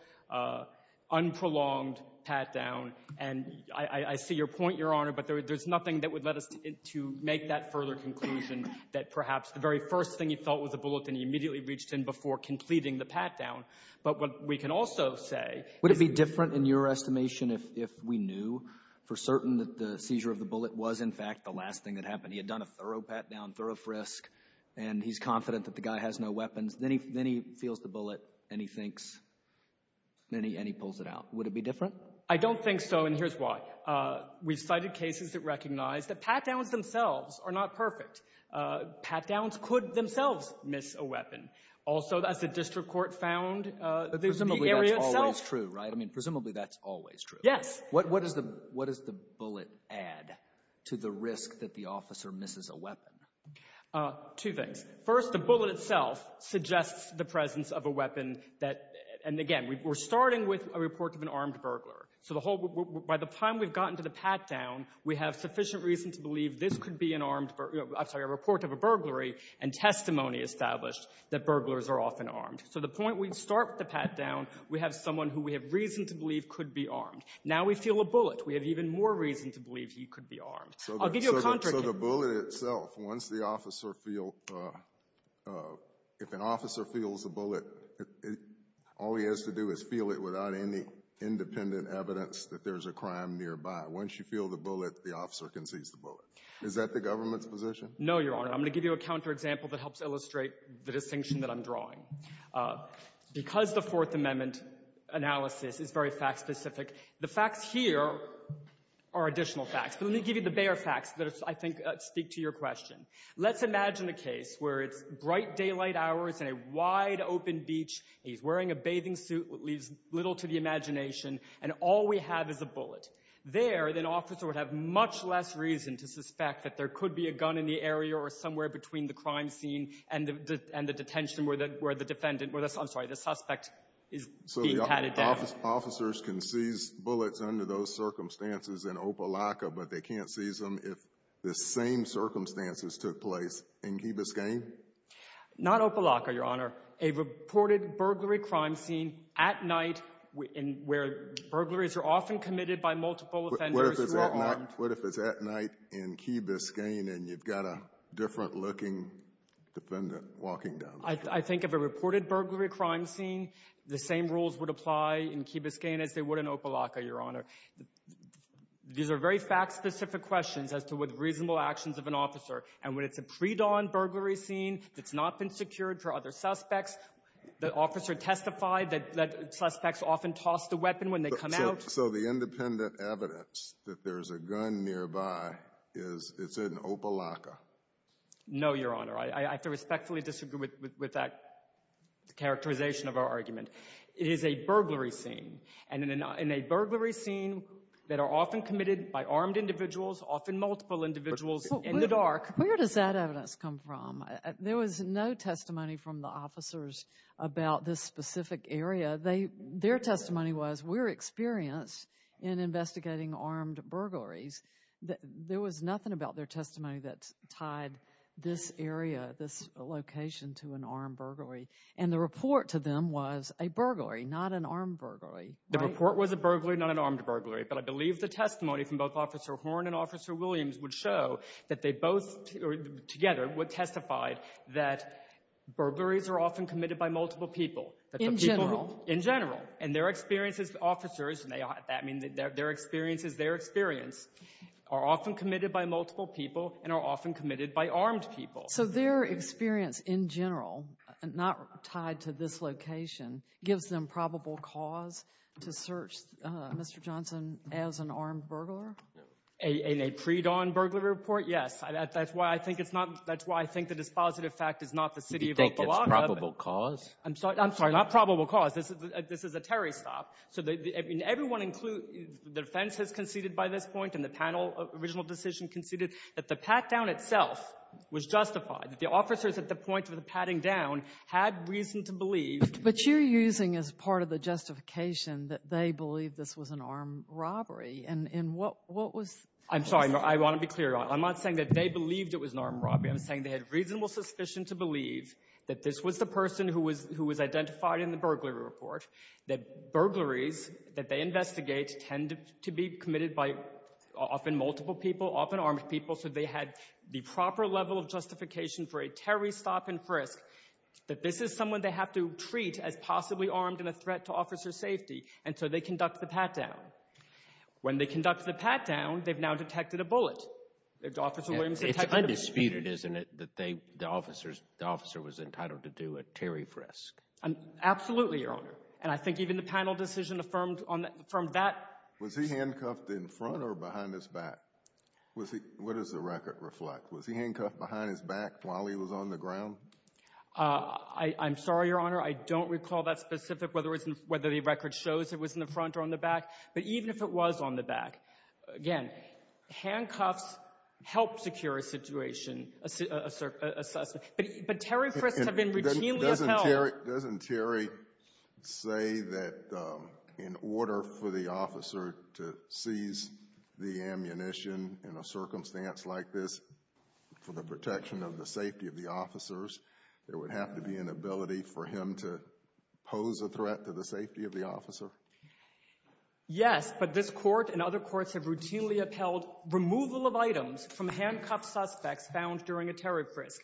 unprolonged pat-down. And I see your point, Your Honor, but there's nothing that would let us to make that further conclusion that perhaps the very first thing he felt was a bullet and he immediately reached in before completing the pat-down. But what we can also say— Would it be different in your estimation if we knew for certain that the seizure of the bullet was, in fact, the last thing that happened? He had done a thorough pat-down, thorough frisk, and he's confident that the guy has no weapons. Then he feels the bullet and he thinks, and he pulls it out. Would it be different? I don't think so, and here's why. We've cited cases that recognize that pat-downs themselves are not perfect. Pat-downs could themselves miss a weapon. Also, as the district court found, the area itself— But presumably that's always true, right? I mean, presumably that's always true. Yes. What does the bullet add to the risk that the officer misses a weapon? Two things. First, the bullet itself suggests the presence of a weapon that— and, again, we're starting with a report of an armed burglar. So the whole—by the time we've gotten to the pat-down, we have sufficient reason to believe this could be an armed— I'm sorry, a report of a burglary and testimony established that burglars are often armed. So the point we start with the pat-down, we have someone who we have reason to believe could be armed. Now we feel a bullet. We have even more reason to believe he could be armed. I'll give you a contra— So the bullet itself, once the officer feels—if an officer feels a bullet, all he has to do is feel it without any independent evidence that there's a crime nearby. Once you feel the bullet, the officer can seize the bullet. Is that the government's position? No, Your Honor. I'm going to give you a counterexample that helps illustrate the distinction that I'm drawing. Because the Fourth Amendment analysis is very fact-specific, the facts here are additional facts, but let me give you the bare facts that I think speak to your question. Let's imagine a case where it's bright daylight hours and a wide-open beach. He's wearing a bathing suit that leaves little to the imagination, and all we have is a bullet. There, an officer would have much less reason to suspect that there could be a gun in the area or somewhere between the crime scene and the detention where the defendant— I'm sorry, the suspect is being patted down. So the officers can seize bullets under those circumstances in Opelika, but they can't seize them if the same circumstances took place in Ghibisgane? Not Opelika, Your Honor. A reported burglary crime scene at night where burglaries are often committed by multiple offenders who are armed— What if it's at night in Ghibisgane and you've got a different-looking defendant walking down the street? I think of a reported burglary crime scene, the same rules would apply in Ghibisgane as they would in Opelika, Your Honor. These are very fact-specific questions as to what reasonable actions of an officer, and when it's a predawn burglary scene that's not been secured for other suspects, the officer testified that suspects often toss the weapon when they come out. So the independent evidence that there's a gun nearby is it's in Opelika? No, Your Honor. I have to respectfully disagree with that characterization of our argument. It is a burglary scene, and in a burglary scene that are often committed by armed individuals, often multiple individuals in the dark. Where does that evidence come from? There was no testimony from the officers about this specific area. Their testimony was, we're experienced in investigating armed burglaries. There was nothing about their testimony that tied this area, this location, to an armed burglary. And the report to them was a burglary, not an armed burglary. The report was a burglary, not an armed burglary. But I believe the testimony from both Officer Horne and Officer Williams would show that they both, together, would testify that burglaries are often committed by multiple people. In general? In general. And their experience as officers, and that means their experience as their experience, are often committed by multiple people and are often committed by armed people. So their experience in general, not tied to this location, gives them probable cause to search Mr. Johnson as an armed burglar? In a predawn burglary report, yes. That's why I think it's not, that's why I think the dispositive fact is not the city of Oklahoma. Do you think it's probable cause? I'm sorry, not probable cause. This is a terrorist stop. So everyone includes, the defense has conceded by this point, and the panel, original decision conceded that the pat-down itself was justified, that the officers at the point of the patting down had reason to believe. But you're using as part of the justification that they believed this was an armed robbery. And what was the reason? I'm sorry, I want to be clear. I'm not saying that they believed it was an armed robbery. I'm saying they had reasonable suspicion to believe that this was the person who was identified in the burglary report, that burglaries that they investigate tend to be committed by often multiple people, often armed people, so they had the proper level of justification for a terrorist stop and frisk, that this is someone they have to treat as possibly armed and a threat to officer safety, and so they conduct the pat-down. When they conduct the pat-down, they've now detected a bullet. Officer Williams detected a bullet. It's undisputed, isn't it, that the officer was entitled to do a terrorist frisk? Absolutely, Your Honor. And I think even the panel decision affirmed that. Was he handcuffed in front or behind his back? What does the record reflect? Was he handcuffed behind his back while he was on the ground? I'm sorry, Your Honor, I don't recall that specific, whether the record shows it was in the front or on the back, but even if it was on the back, again, handcuffs help secure a situation, a suspect. But terrorist frisks have been routinely upheld. Doesn't Terry say that in order for the officer to seize the ammunition in a circumstance like this, for the protection of the safety of the officers, there would have to be an ability for him to pose a threat to the safety of the officer? Yes, but this Court and other courts have routinely upheld removal of items from handcuffed suspects found during a terrorist frisk.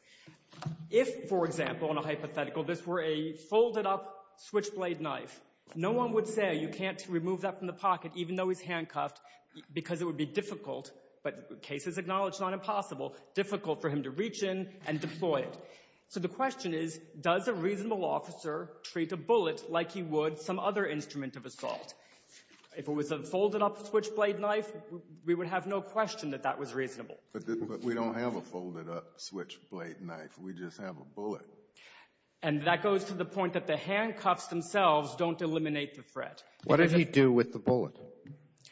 If, for example, in a hypothetical, this were a folded-up switchblade knife, no one would say you can't remove that from the pocket even though he's handcuffed because it would be difficult, but the case is acknowledged, not impossible, difficult for him to reach in and deploy it. So the question is, does a reasonable officer treat a bullet like he would some other instrument of assault? If it was a folded-up switchblade knife, we would have no question that that was reasonable. But we don't have a folded-up switchblade knife. We just have a bullet. And that goes to the point that the handcuffs themselves don't eliminate the threat. What did he do with the bullet?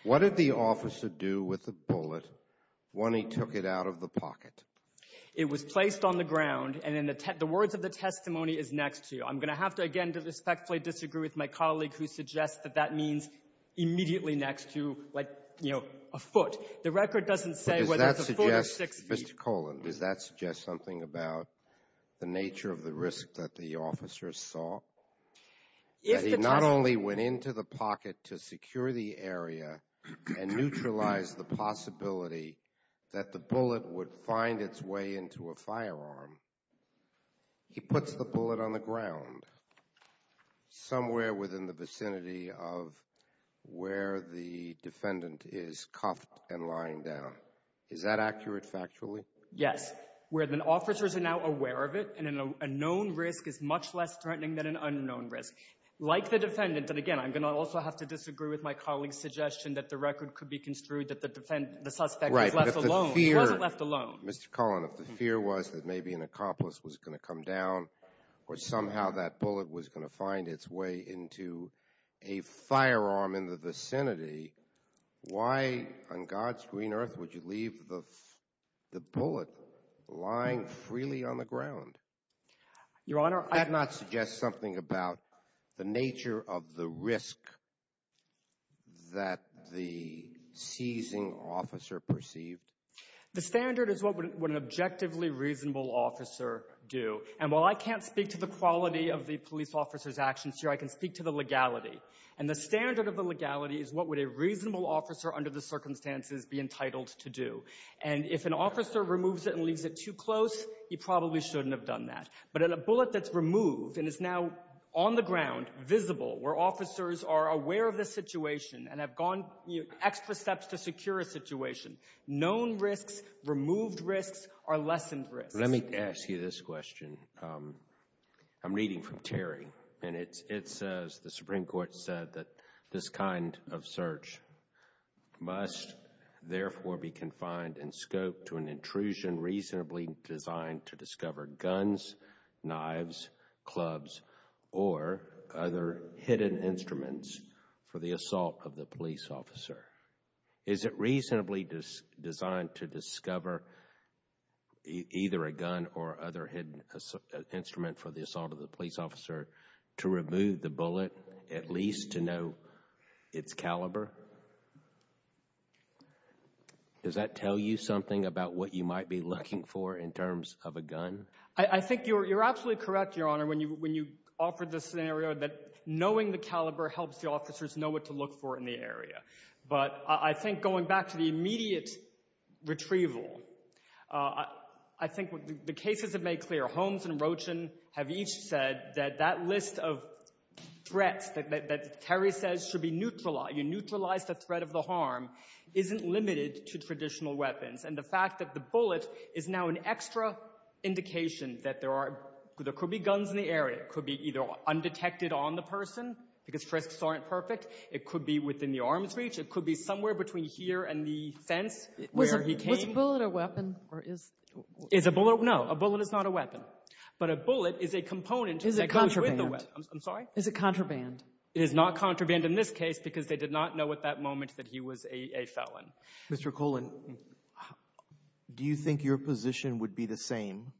What did the officer do with the bullet when he took it out of the pocket? It was placed on the ground, and the words of the testimony is next to you. I'm going to have to, again, respectfully disagree with my colleague who suggests that that means immediately next to, like, you know, a foot. The record doesn't say whether it's a foot or six feet. But does that suggest, Mr. Colan, does that suggest something about the nature of the risk that the officer saw? That he not only went into the pocket to secure the area and neutralize the possibility that the bullet would find its way into a firearm, he puts the bullet on the ground somewhere within the vicinity of where the defendant is cuffed and lying down. Is that accurate factually? Yes. Where the officers are now aware of it, and a known risk is much less threatening than an unknown risk. Like the defendant, and again, I'm going to also have to disagree with my colleague's suggestion that the record could be construed that the suspect was left alone. Right. He wasn't left alone. Mr. Colan, if the fear was that maybe an accomplice was going to come down or somehow that bullet was going to find its way into a firearm in the vicinity, why on God's green earth would you leave the bullet lying freely on the ground? Your Honor, I— That not suggest something about the nature of the risk that the seizing officer perceived? The standard is what would an objectively reasonable officer do. And while I can't speak to the quality of the police officer's actions here, I can speak to the legality. And the standard of the legality is what would a reasonable officer under the circumstances be entitled to do. And if an officer removes it and leaves it too close, he probably shouldn't have done that. But in a bullet that's removed and is now on the ground, visible, where officers are aware of the situation and have gone, you know, extra steps to secure a situation, known risks, removed risks are lessened risks. Let me ask you this question. I'm reading from Terry, and it says, the Supreme Court said that this kind of search must therefore be confined in scope to an intrusion reasonably designed to discover guns, knives, clubs, or other hidden instruments for the assault of the police officer. Is it reasonably designed to discover either a gun or other hidden instrument for the assault of the police officer to remove the bullet, at least to know its caliber? Does that tell you something about what you might be looking for in terms of a gun? I think you're absolutely correct, Your Honor, when you offered the scenario that knowing the caliber helps the officers know what to look for in the area. But I think going back to the immediate retrieval, I think the cases have made clear. Holmes and Rochin have each said that that list of threats that Terry says should be neutralized, you neutralize the threat of the harm, isn't limited to traditional weapons. And the fact that the bullet is now an extra indication that there could be guns in the person because risks aren't perfect. It could be within the arm's reach. It could be somewhere between here and the fence where he came. Was the bullet a weapon or is the bullet a weapon? No, a bullet is not a weapon. But a bullet is a component that goes with the weapon. Is it contraband? I'm sorry? Is it contraband? It is not contraband in this case because they did not know at that moment that he was a felon. Mr. Colan, do you think your position would be the same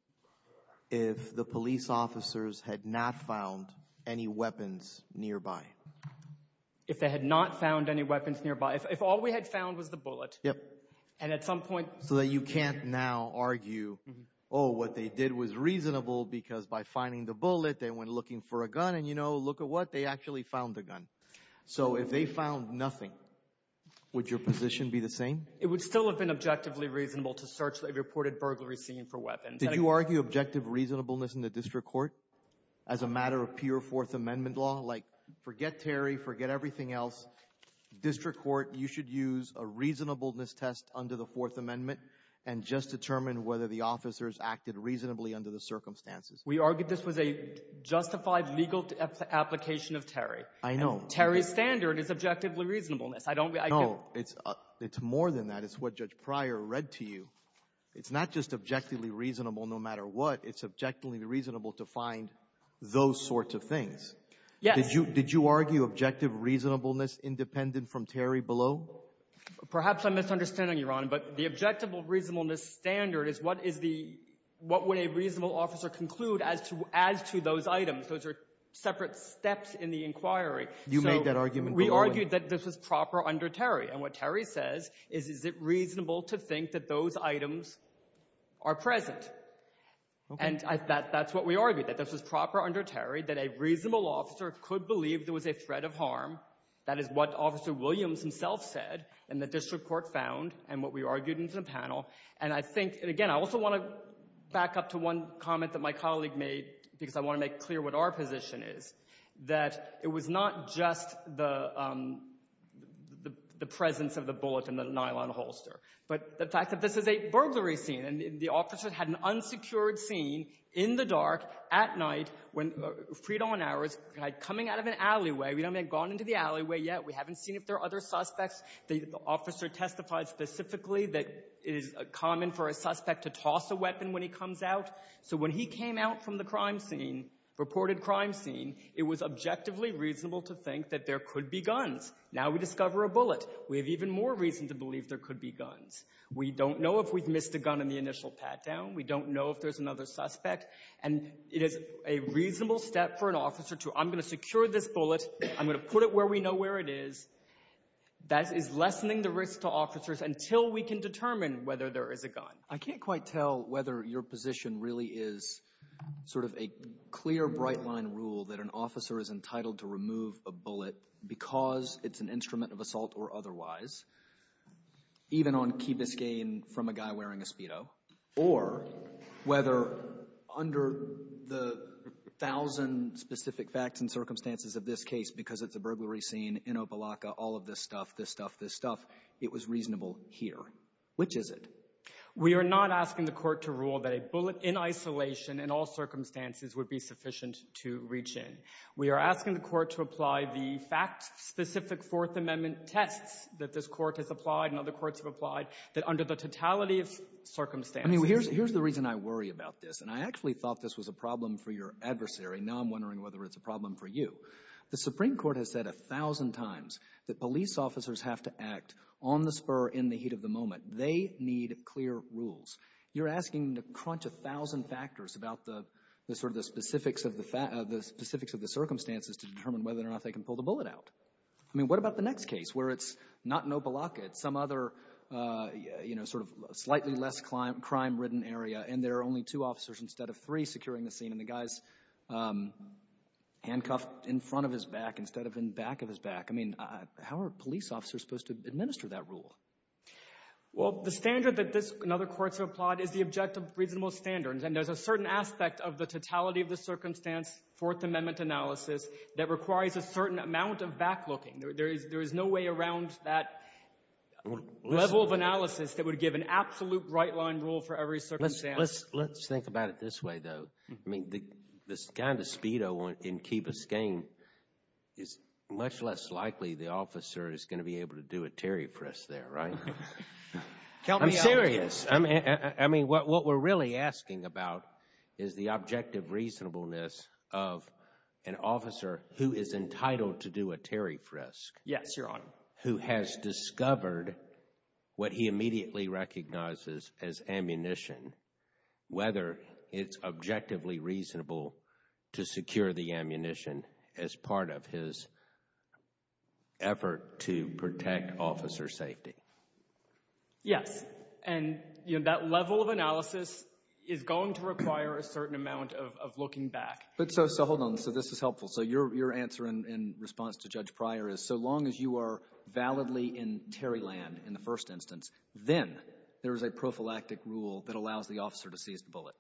if the police officers had not found any weapons nearby? If they had not found any weapons nearby? If all we had found was the bullet? Yep. And at some point... So that you can't now argue, oh, what they did was reasonable because by finding the bullet, they went looking for a gun and, you know, look at what, they actually found the gun. So if they found nothing, would your position be the same? It would still have been objectively reasonable to search the reported burglary scene for weapons. Did you argue objective reasonableness in the district court as a matter of pure Fourth Amendment law? Like, forget Terry, forget everything else. District court, you should use a reasonableness test under the Fourth Amendment and just determine whether the officers acted reasonably under the circumstances. We argued this was a justified legal application of Terry. I know. Terry's standard is objectively reasonableness. I don't — No. It's more than that. It's what Judge Pryor read to you. It's not just objectively reasonable no matter what. It's objectively reasonable to find those sorts of things. Yes. Did you argue objective reasonableness independent from Terry below? Perhaps I'm misunderstanding you, Your Honor, but the objective reasonableness standard is what is the — what would a reasonable officer conclude as to those items. Those are separate steps in the inquiry. You made that argument below. So we argued that this was proper under Terry. And what Terry says is, is it reasonable to think that those items are present? Okay. And that's what we argued, that this was proper under Terry, that a reasonable officer could believe there was a threat of harm. That is what Officer Williams himself said and the district court found and what we argued in the panel. And I think — and again, I also want to back up to one comment that my colleague made because I want to make clear what our position is, that it was not just the presence of the bullet in the nylon holster, but the fact that this is a burglary scene and the officer had an unsecured scene in the dark at night when — freed on hours, coming out of an alleyway. We don't have gone into the alleyway yet. We haven't seen if there are other suspects. The officer testified specifically that it is common for a suspect to toss a weapon when he comes out. So when he came out from the crime scene, reported crime scene, it was objectively reasonable to think that there could be guns. Now we discover a bullet. We have even more reason to believe there could be guns. We don't know if we've missed a gun in the initial pat-down. We don't know if there's another suspect. And it is a reasonable step for an officer to, I'm going to secure this bullet. I'm going to put it where we know where it is. That is lessening the risk to officers until we can determine whether there is a gun. I can't quite tell whether your position really is sort of a clear, bright-line rule that an officer is entitled to remove a bullet because it's an instrument of assault or otherwise, even on key biscayne from a guy wearing a Speedo, or whether under the thousand specific facts and circumstances of this case, because it's a burglary scene in Opelika, all of this stuff, this stuff, this stuff, it was reasonable here. Which is it? We are not asking the court to rule that a bullet in isolation in all circumstances would be sufficient to reach in. We are asking the court to apply the fact-specific Fourth Amendment tests that this court has applied and other courts have applied that under the totality of circumstances I mean, here's the reason I worry about this. And I actually thought this was a problem for your adversary. Now I'm wondering whether it's a problem for you. The Supreme Court has said a thousand times that police officers have to act on the spur in the heat of the moment. They need clear rules. You're asking to crunch a thousand factors about the sort of the specifics of the circumstances to determine whether or not they can pull the bullet out. I mean, what about the next case where it's not in Opelika. It's some other, you know, sort of slightly less crime-ridden area and there are only two officers instead of three securing the scene and the guy's handcuffed in front of his back instead of in back of his back. I mean, how are police officers supposed to administer that rule? Well, the standard that this and other courts have applied is the objective reasonable standards. And there's a certain aspect of the totality of the circumstance Fourth Amendment analysis that requires a certain amount of back-looking. There is no way around that level of analysis that would give an absolute right-line rule for every circumstance. Let's think about it this way, though. I mean, the kind of speedo in Keeba's game is much less likely the officer is going to be able to do a terry frisk there, right? I'm serious. I mean, what we're really asking about is the objective reasonableness of an officer who is entitled to do a terry frisk. Yes, Your Honor. Who has discovered what he immediately recognizes as ammunition, whether it's Yes. And that level of analysis is going to require a certain amount of looking back. But so hold on. So this is helpful. So your answer in response to Judge Pryor is so long as you are validly in terry land in the first instance, then there is a prophylactic rule that allows the officer to seize the bullet.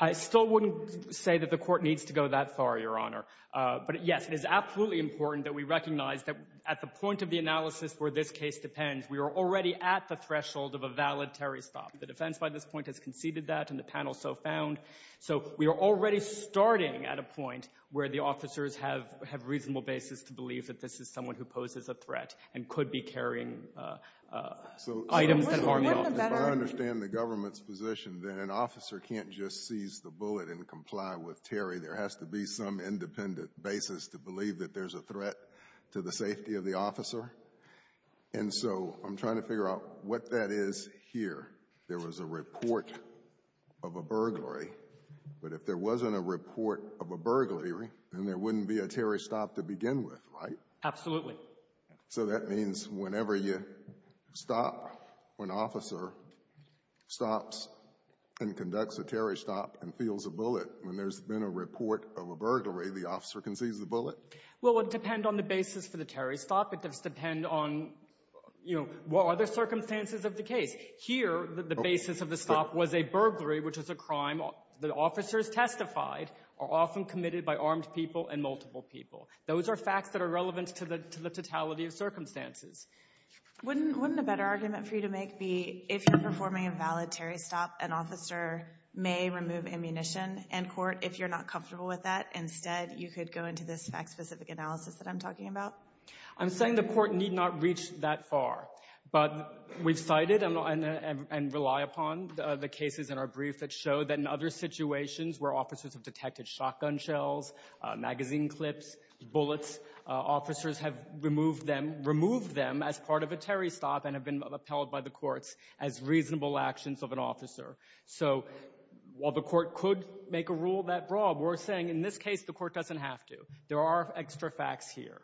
I still wouldn't say that the court needs to go that far, Your Honor. But, yes, it is absolutely important that we recognize that at the point of the analysis where this case depends, we are already at the threshold of a valid terry stop. The defense by this point has conceded that, and the panel so found. So we are already starting at a point where the officers have reasonable basis to believe that this is someone who poses a threat and could be carrying items that harm the officer. So if I understand the government's position, then an officer can't just seize the bullet and comply with terry. There has to be some independent basis to believe that there's a threat to the And so I'm trying to figure out what that is here. There was a report of a burglary. But if there wasn't a report of a burglary, then there wouldn't be a terry stop to begin with, right? Absolutely. So that means whenever you stop, when an officer stops and conducts a terry stop and feels a bullet, when there's been a report of a burglary, the officer can seize the bullet? Well, it would depend on the basis for the terry stop. It does depend on, you know, what are the circumstances of the case. Here, the basis of the stop was a burglary, which is a crime that officers testified are often committed by armed people and multiple people. Those are facts that are relevant to the totality of circumstances. Wouldn't a better argument for you to make be if you're performing a valid terry stop, an officer may remove ammunition in court. If you're not comfortable with that, instead you could go into this fact-specific analysis that I'm talking about? I'm saying the court need not reach that far. But we've cited and rely upon the cases in our brief that show that in other situations where officers have detected shotgun shells, magazine clips, bullets, officers have removed them as part of a terry stop and have been upheld by the courts as reasonable actions of an officer. So while the court could make a rule that broad, we're saying in this case the court doesn't have to. There are extra facts here.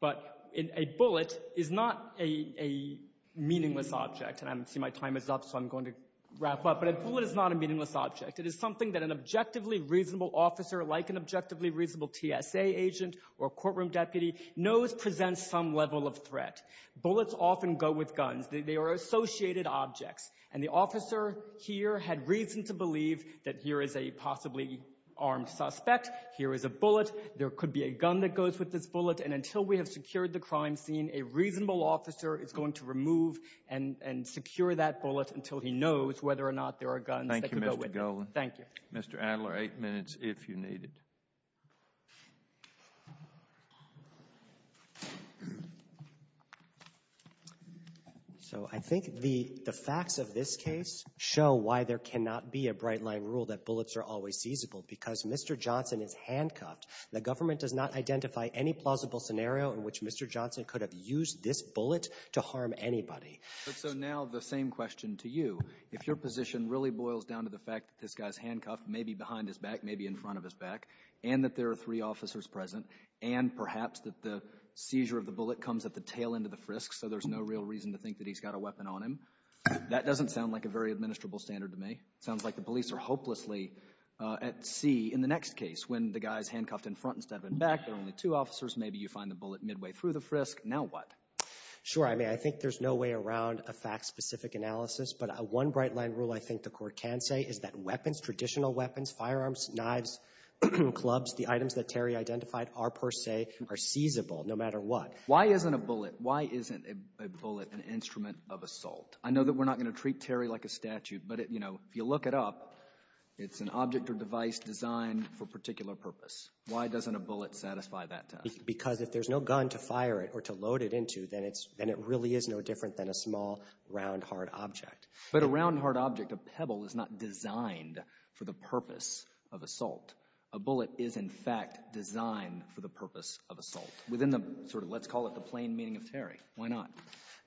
But a bullet is not a meaningless object. And I see my time is up, so I'm going to wrap up. But a bullet is not a meaningless object. It is something that an objectively reasonable officer, like an objectively reasonable TSA agent or courtroom deputy, knows presents some level of threat. Bullets often go with guns. They are associated objects. And the officer here had reason to believe that here is a possibly armed suspect, here is a bullet, there could be a gun that goes with this bullet. And until we have secured the crime scene, a reasonable officer is going to remove and secure that bullet until he knows whether or not there are guns that could go with it. Thank you. Mr. Adler, eight minutes if you need it. So I think the facts of this case show why there cannot be a bright-line rule that Mr. Johnson is handcuffed. The government does not identify any plausible scenario in which Mr. Johnson could have used this bullet to harm anybody. So now the same question to you. If your position really boils down to the fact that this guy is handcuffed, maybe behind his back, maybe in front of his back, and that there are three officers present, and perhaps that the seizure of the bullet comes at the tail end of the frisk so there's no real reason to think that he's got a weapon on him, that doesn't sound like a very administrable standard to me. It sounds like the police are hopelessly at sea in the next case when the guy is handcuffed in front instead of in back. There are only two officers. Maybe you find the bullet midway through the frisk. Now what? Sure. I mean, I think there's no way around a fact-specific analysis, but one bright-line rule I think the Court can say is that weapons, traditional weapons, firearms, knives, clubs, the items that Terry identified are per se are seizable no matter what. Why isn't a bullet an instrument of assault? I know that we're not going to treat Terry like a statute, but if you look it up, it's an object or device designed for a particular purpose. Why doesn't a bullet satisfy that test? Because if there's no gun to fire it or to load it into, then it really is no different than a small, round, hard object. But a round, hard object, a pebble, is not designed for the purpose of assault. A bullet is, in fact, designed for the purpose of assault, within the sort of let's call it the plain meaning of Terry. Why not?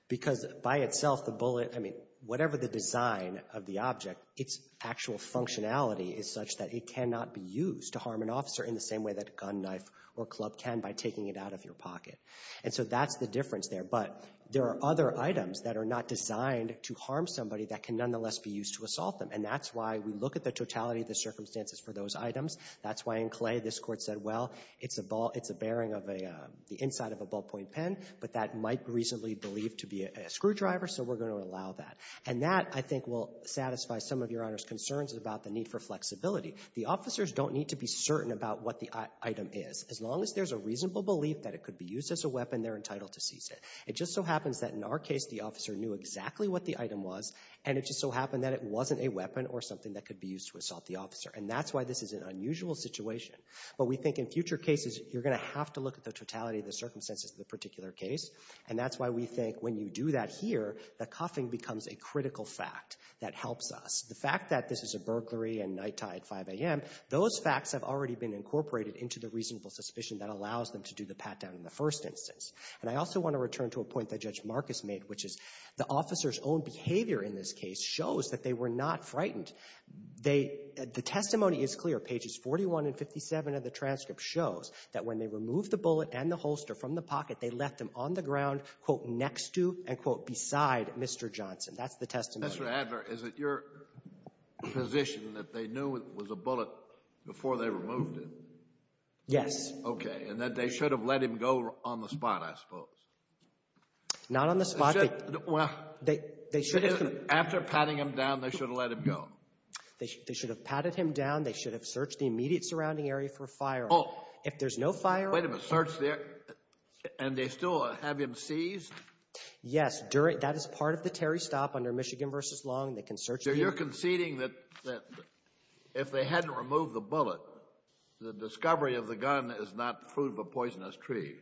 Because by itself, the bullet, I mean, whatever the design of the object, its actual functionality is such that it cannot be used to harm an officer in the same way that a gun, knife, or club can by taking it out of your pocket. And so that's the difference there. But there are other items that are not designed to harm somebody that can nonetheless be used to assault them. And that's why we look at the totality of the circumstances for those items. That's why in Clay this Court said, well, it's a ball, it's a bearing of the inside of a ballpoint pen, but that might reasonably be believed to be a screwdriver, so we're going to allow that. And that, I think, will satisfy some of Your Honor's concerns about the need for flexibility. The officers don't need to be certain about what the item is. As long as there's a reasonable belief that it could be used as a weapon, they're entitled to seize it. It just so happens that in our case, the officer knew exactly what the item was, and it just so happened that it wasn't a weapon or something that could be used to assault the officer. And that's why this is an unusual situation. But we think in future cases, you're going to have to look at the totality of the circumstances of the particular case. And that's why we think when you do that here, the cuffing becomes a critical fact that helps us. The fact that this is a burglary and nighttime at 5 a.m., those facts have already been incorporated into the reasonable suspicion that allows them to do the pat-down in the first instance. And I also want to return to a point that Judge Marcus made, which is the officer's own behavior in this case shows that they were not frightened. They — the testimony is clear. Pages 41 and 57 of the transcript shows that when they removed the bullet and the holster from the pocket, they left them on the ground, quote, next to and, quote, beside Mr. Johnson. That's the testimony. Mr. Adler, is it your position that they knew it was a bullet before they removed it? Yes. Okay. And that they should have let him go on the spot, I suppose. Not on the spot. They should have — Well, after patting him down, they should have let him go. They should have patted him down. They should have searched the immediate surrounding area for a firearm. Oh. If there's no firearm — Wait a minute. Search the — and they still have him seized? Yes. That is part of the Terry stop under Michigan v. Long. They can search — So you're conceding that if they hadn't removed the bullet, the discovery of the gun is not fruit of a poisonous tree?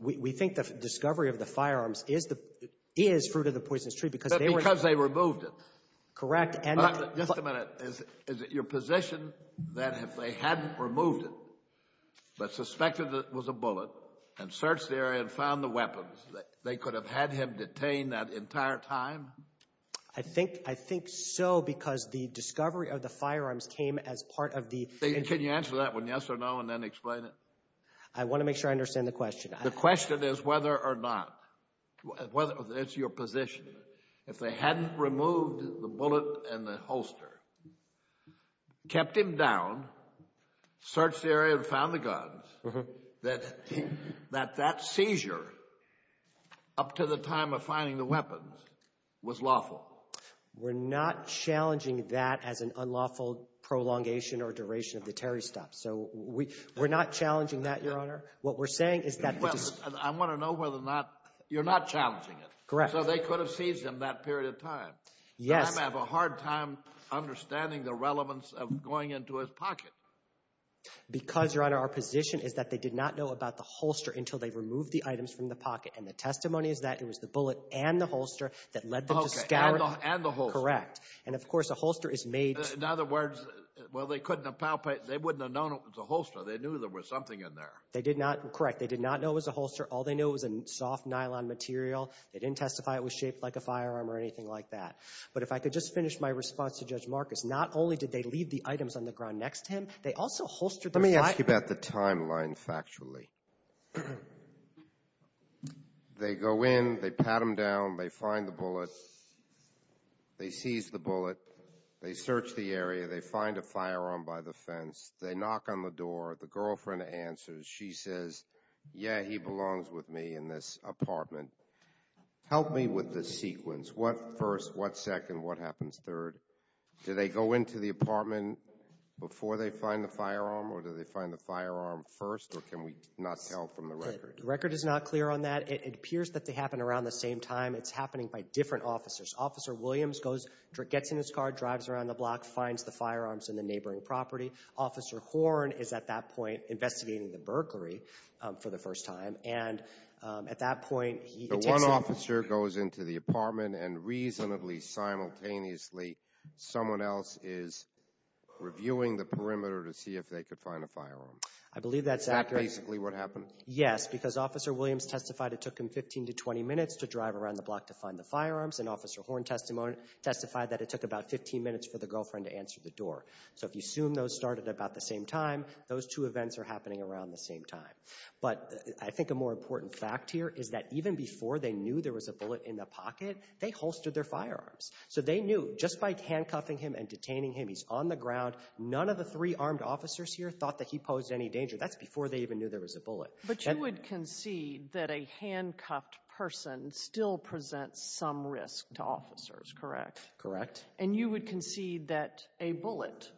We think the discovery of the firearms is the — is fruit of the poisonous tree because they were — But because they removed it. Correct. And — Just a minute. Is it your position that if they hadn't removed it, but suspected it was a bullet and searched the area and found the weapons, they could have had him detained that entire time? I think so because the discovery of the firearms came as part of the — Can you answer that one, yes or no, and then explain it? I want to make sure I understand the question. The question is whether or not. It's your position. If they hadn't removed the bullet and the holster, kept him down, searched the area and found the guns, that that seizure up to the time of finding the weapons was lawful? We're not challenging that as an unlawful prolongation or duration of the Terry stop. So we're not challenging that, Your Honor. What we're saying is that — I want to know whether or not — you're not challenging it. Correct. And so they could have seized him that period of time. Yes. I have a hard time understanding the relevance of going into his pocket. Because, Your Honor, our position is that they did not know about the holster until they removed the items from the pocket. And the testimony is that it was the bullet and the holster that led them to scour — Okay. And the holster. Correct. And, of course, a holster is made — In other words, well, they couldn't have — they wouldn't have known it was a holster. They knew there was something in there. They did not — correct. They did not know it was a holster. All they knew was a soft nylon material. They didn't testify it was shaped like a firearm or anything like that. But if I could just finish my response to Judge Marcus, not only did they leave the items on the ground next to him, they also holstered the — Let me ask you about the timeline factually. They go in. They pat him down. They find the bullet. They seize the bullet. They search the area. They find a firearm by the fence. They knock on the door. The girlfriend answers. She says, yeah, he belongs with me in this apartment. Help me with the sequence. What first, what second, what happens third? Do they go into the apartment before they find the firearm, or do they find the firearm first, or can we not tell from the record? The record is not clear on that. It appears that they happen around the same time. It's happening by different officers. Officer Williams goes — gets in his car, drives around the block, finds the firearms in the neighboring property. Officer Horn is at that point investigating the burglary for the first time, and at that point, he — So one officer goes into the apartment, and reasonably simultaneously, someone else is reviewing the perimeter to see if they could find a firearm. I believe that's accurate. Is that basically what happened? Yes, because Officer Williams testified it took him 15 to 20 minutes to drive around the block to find the firearms, and Officer Horn testified that it took about 15 minutes for the girlfriend to answer the door. So if you assume those started about the same time, those two events are happening around the same time. But I think a more important fact here is that even before they knew there was a bullet in the pocket, they holstered their firearms. So they knew just by handcuffing him and detaining him, he's on the ground. None of the three armed officers here thought that he posed any danger. That's before they even knew there was a bullet. But you would concede that a handcuffed person still presents some risk to officers, correct? Correct. And you would concede that a bullet,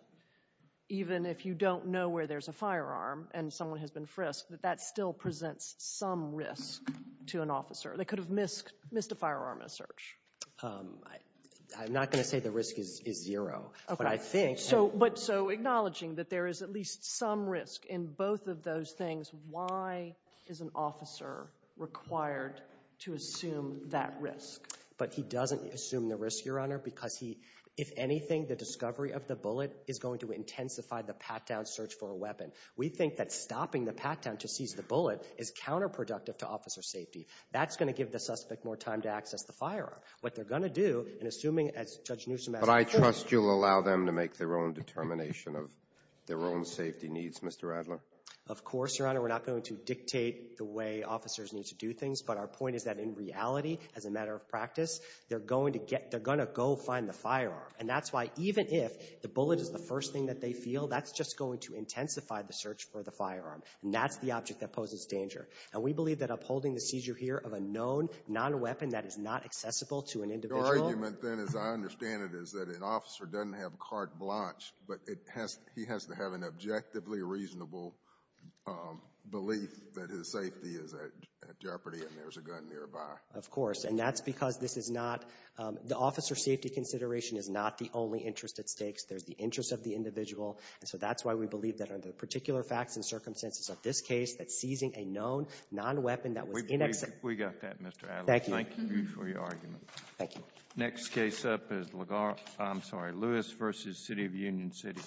even if you don't know where there's a firearm and someone has been frisked, that that still presents some risk to an officer. They could have missed a firearm in a search. I'm not going to say the risk is zero. Okay. But I think— But so acknowledging that there is at least some risk in both of those things, why is an officer required to assume that risk? But he doesn't assume the risk, Your Honor, because he, if anything, the discovery of the bullet is going to intensify the pat-down search for a weapon. We think that stopping the pat-down to seize the bullet is counterproductive to officer safety. That's going to give the suspect more time to access the firearm. What they're going to do, and assuming, as Judge Newsom asked— But I trust you'll allow them to make their own determination of their own safety needs, Mr. Adler? Of course, Your Honor. We're not going to dictate the way officers need to do things. But our point is that in reality, as a matter of practice, they're going to go find the firearm. And that's why even if the bullet is the first thing that they feel, that's just going to intensify the search for the firearm. And that's the object that poses danger. And we believe that upholding the seizure here of a known non-weapon that is not accessible to an individual— Your argument, then, as I understand it, is that an officer doesn't have carte blanche, but he has to have an objectively reasonable belief that his safety is at risk. And that's why we believe that under the particular facts and circumstances of this case, that seizing a known non-weapon that was in— We got that, Mr. Adler. Thank you. Thank you for your argument. Thank you. Next case up is LaGarra — I'm sorry, Lewis v. City of Union City. Thank you. Thank you.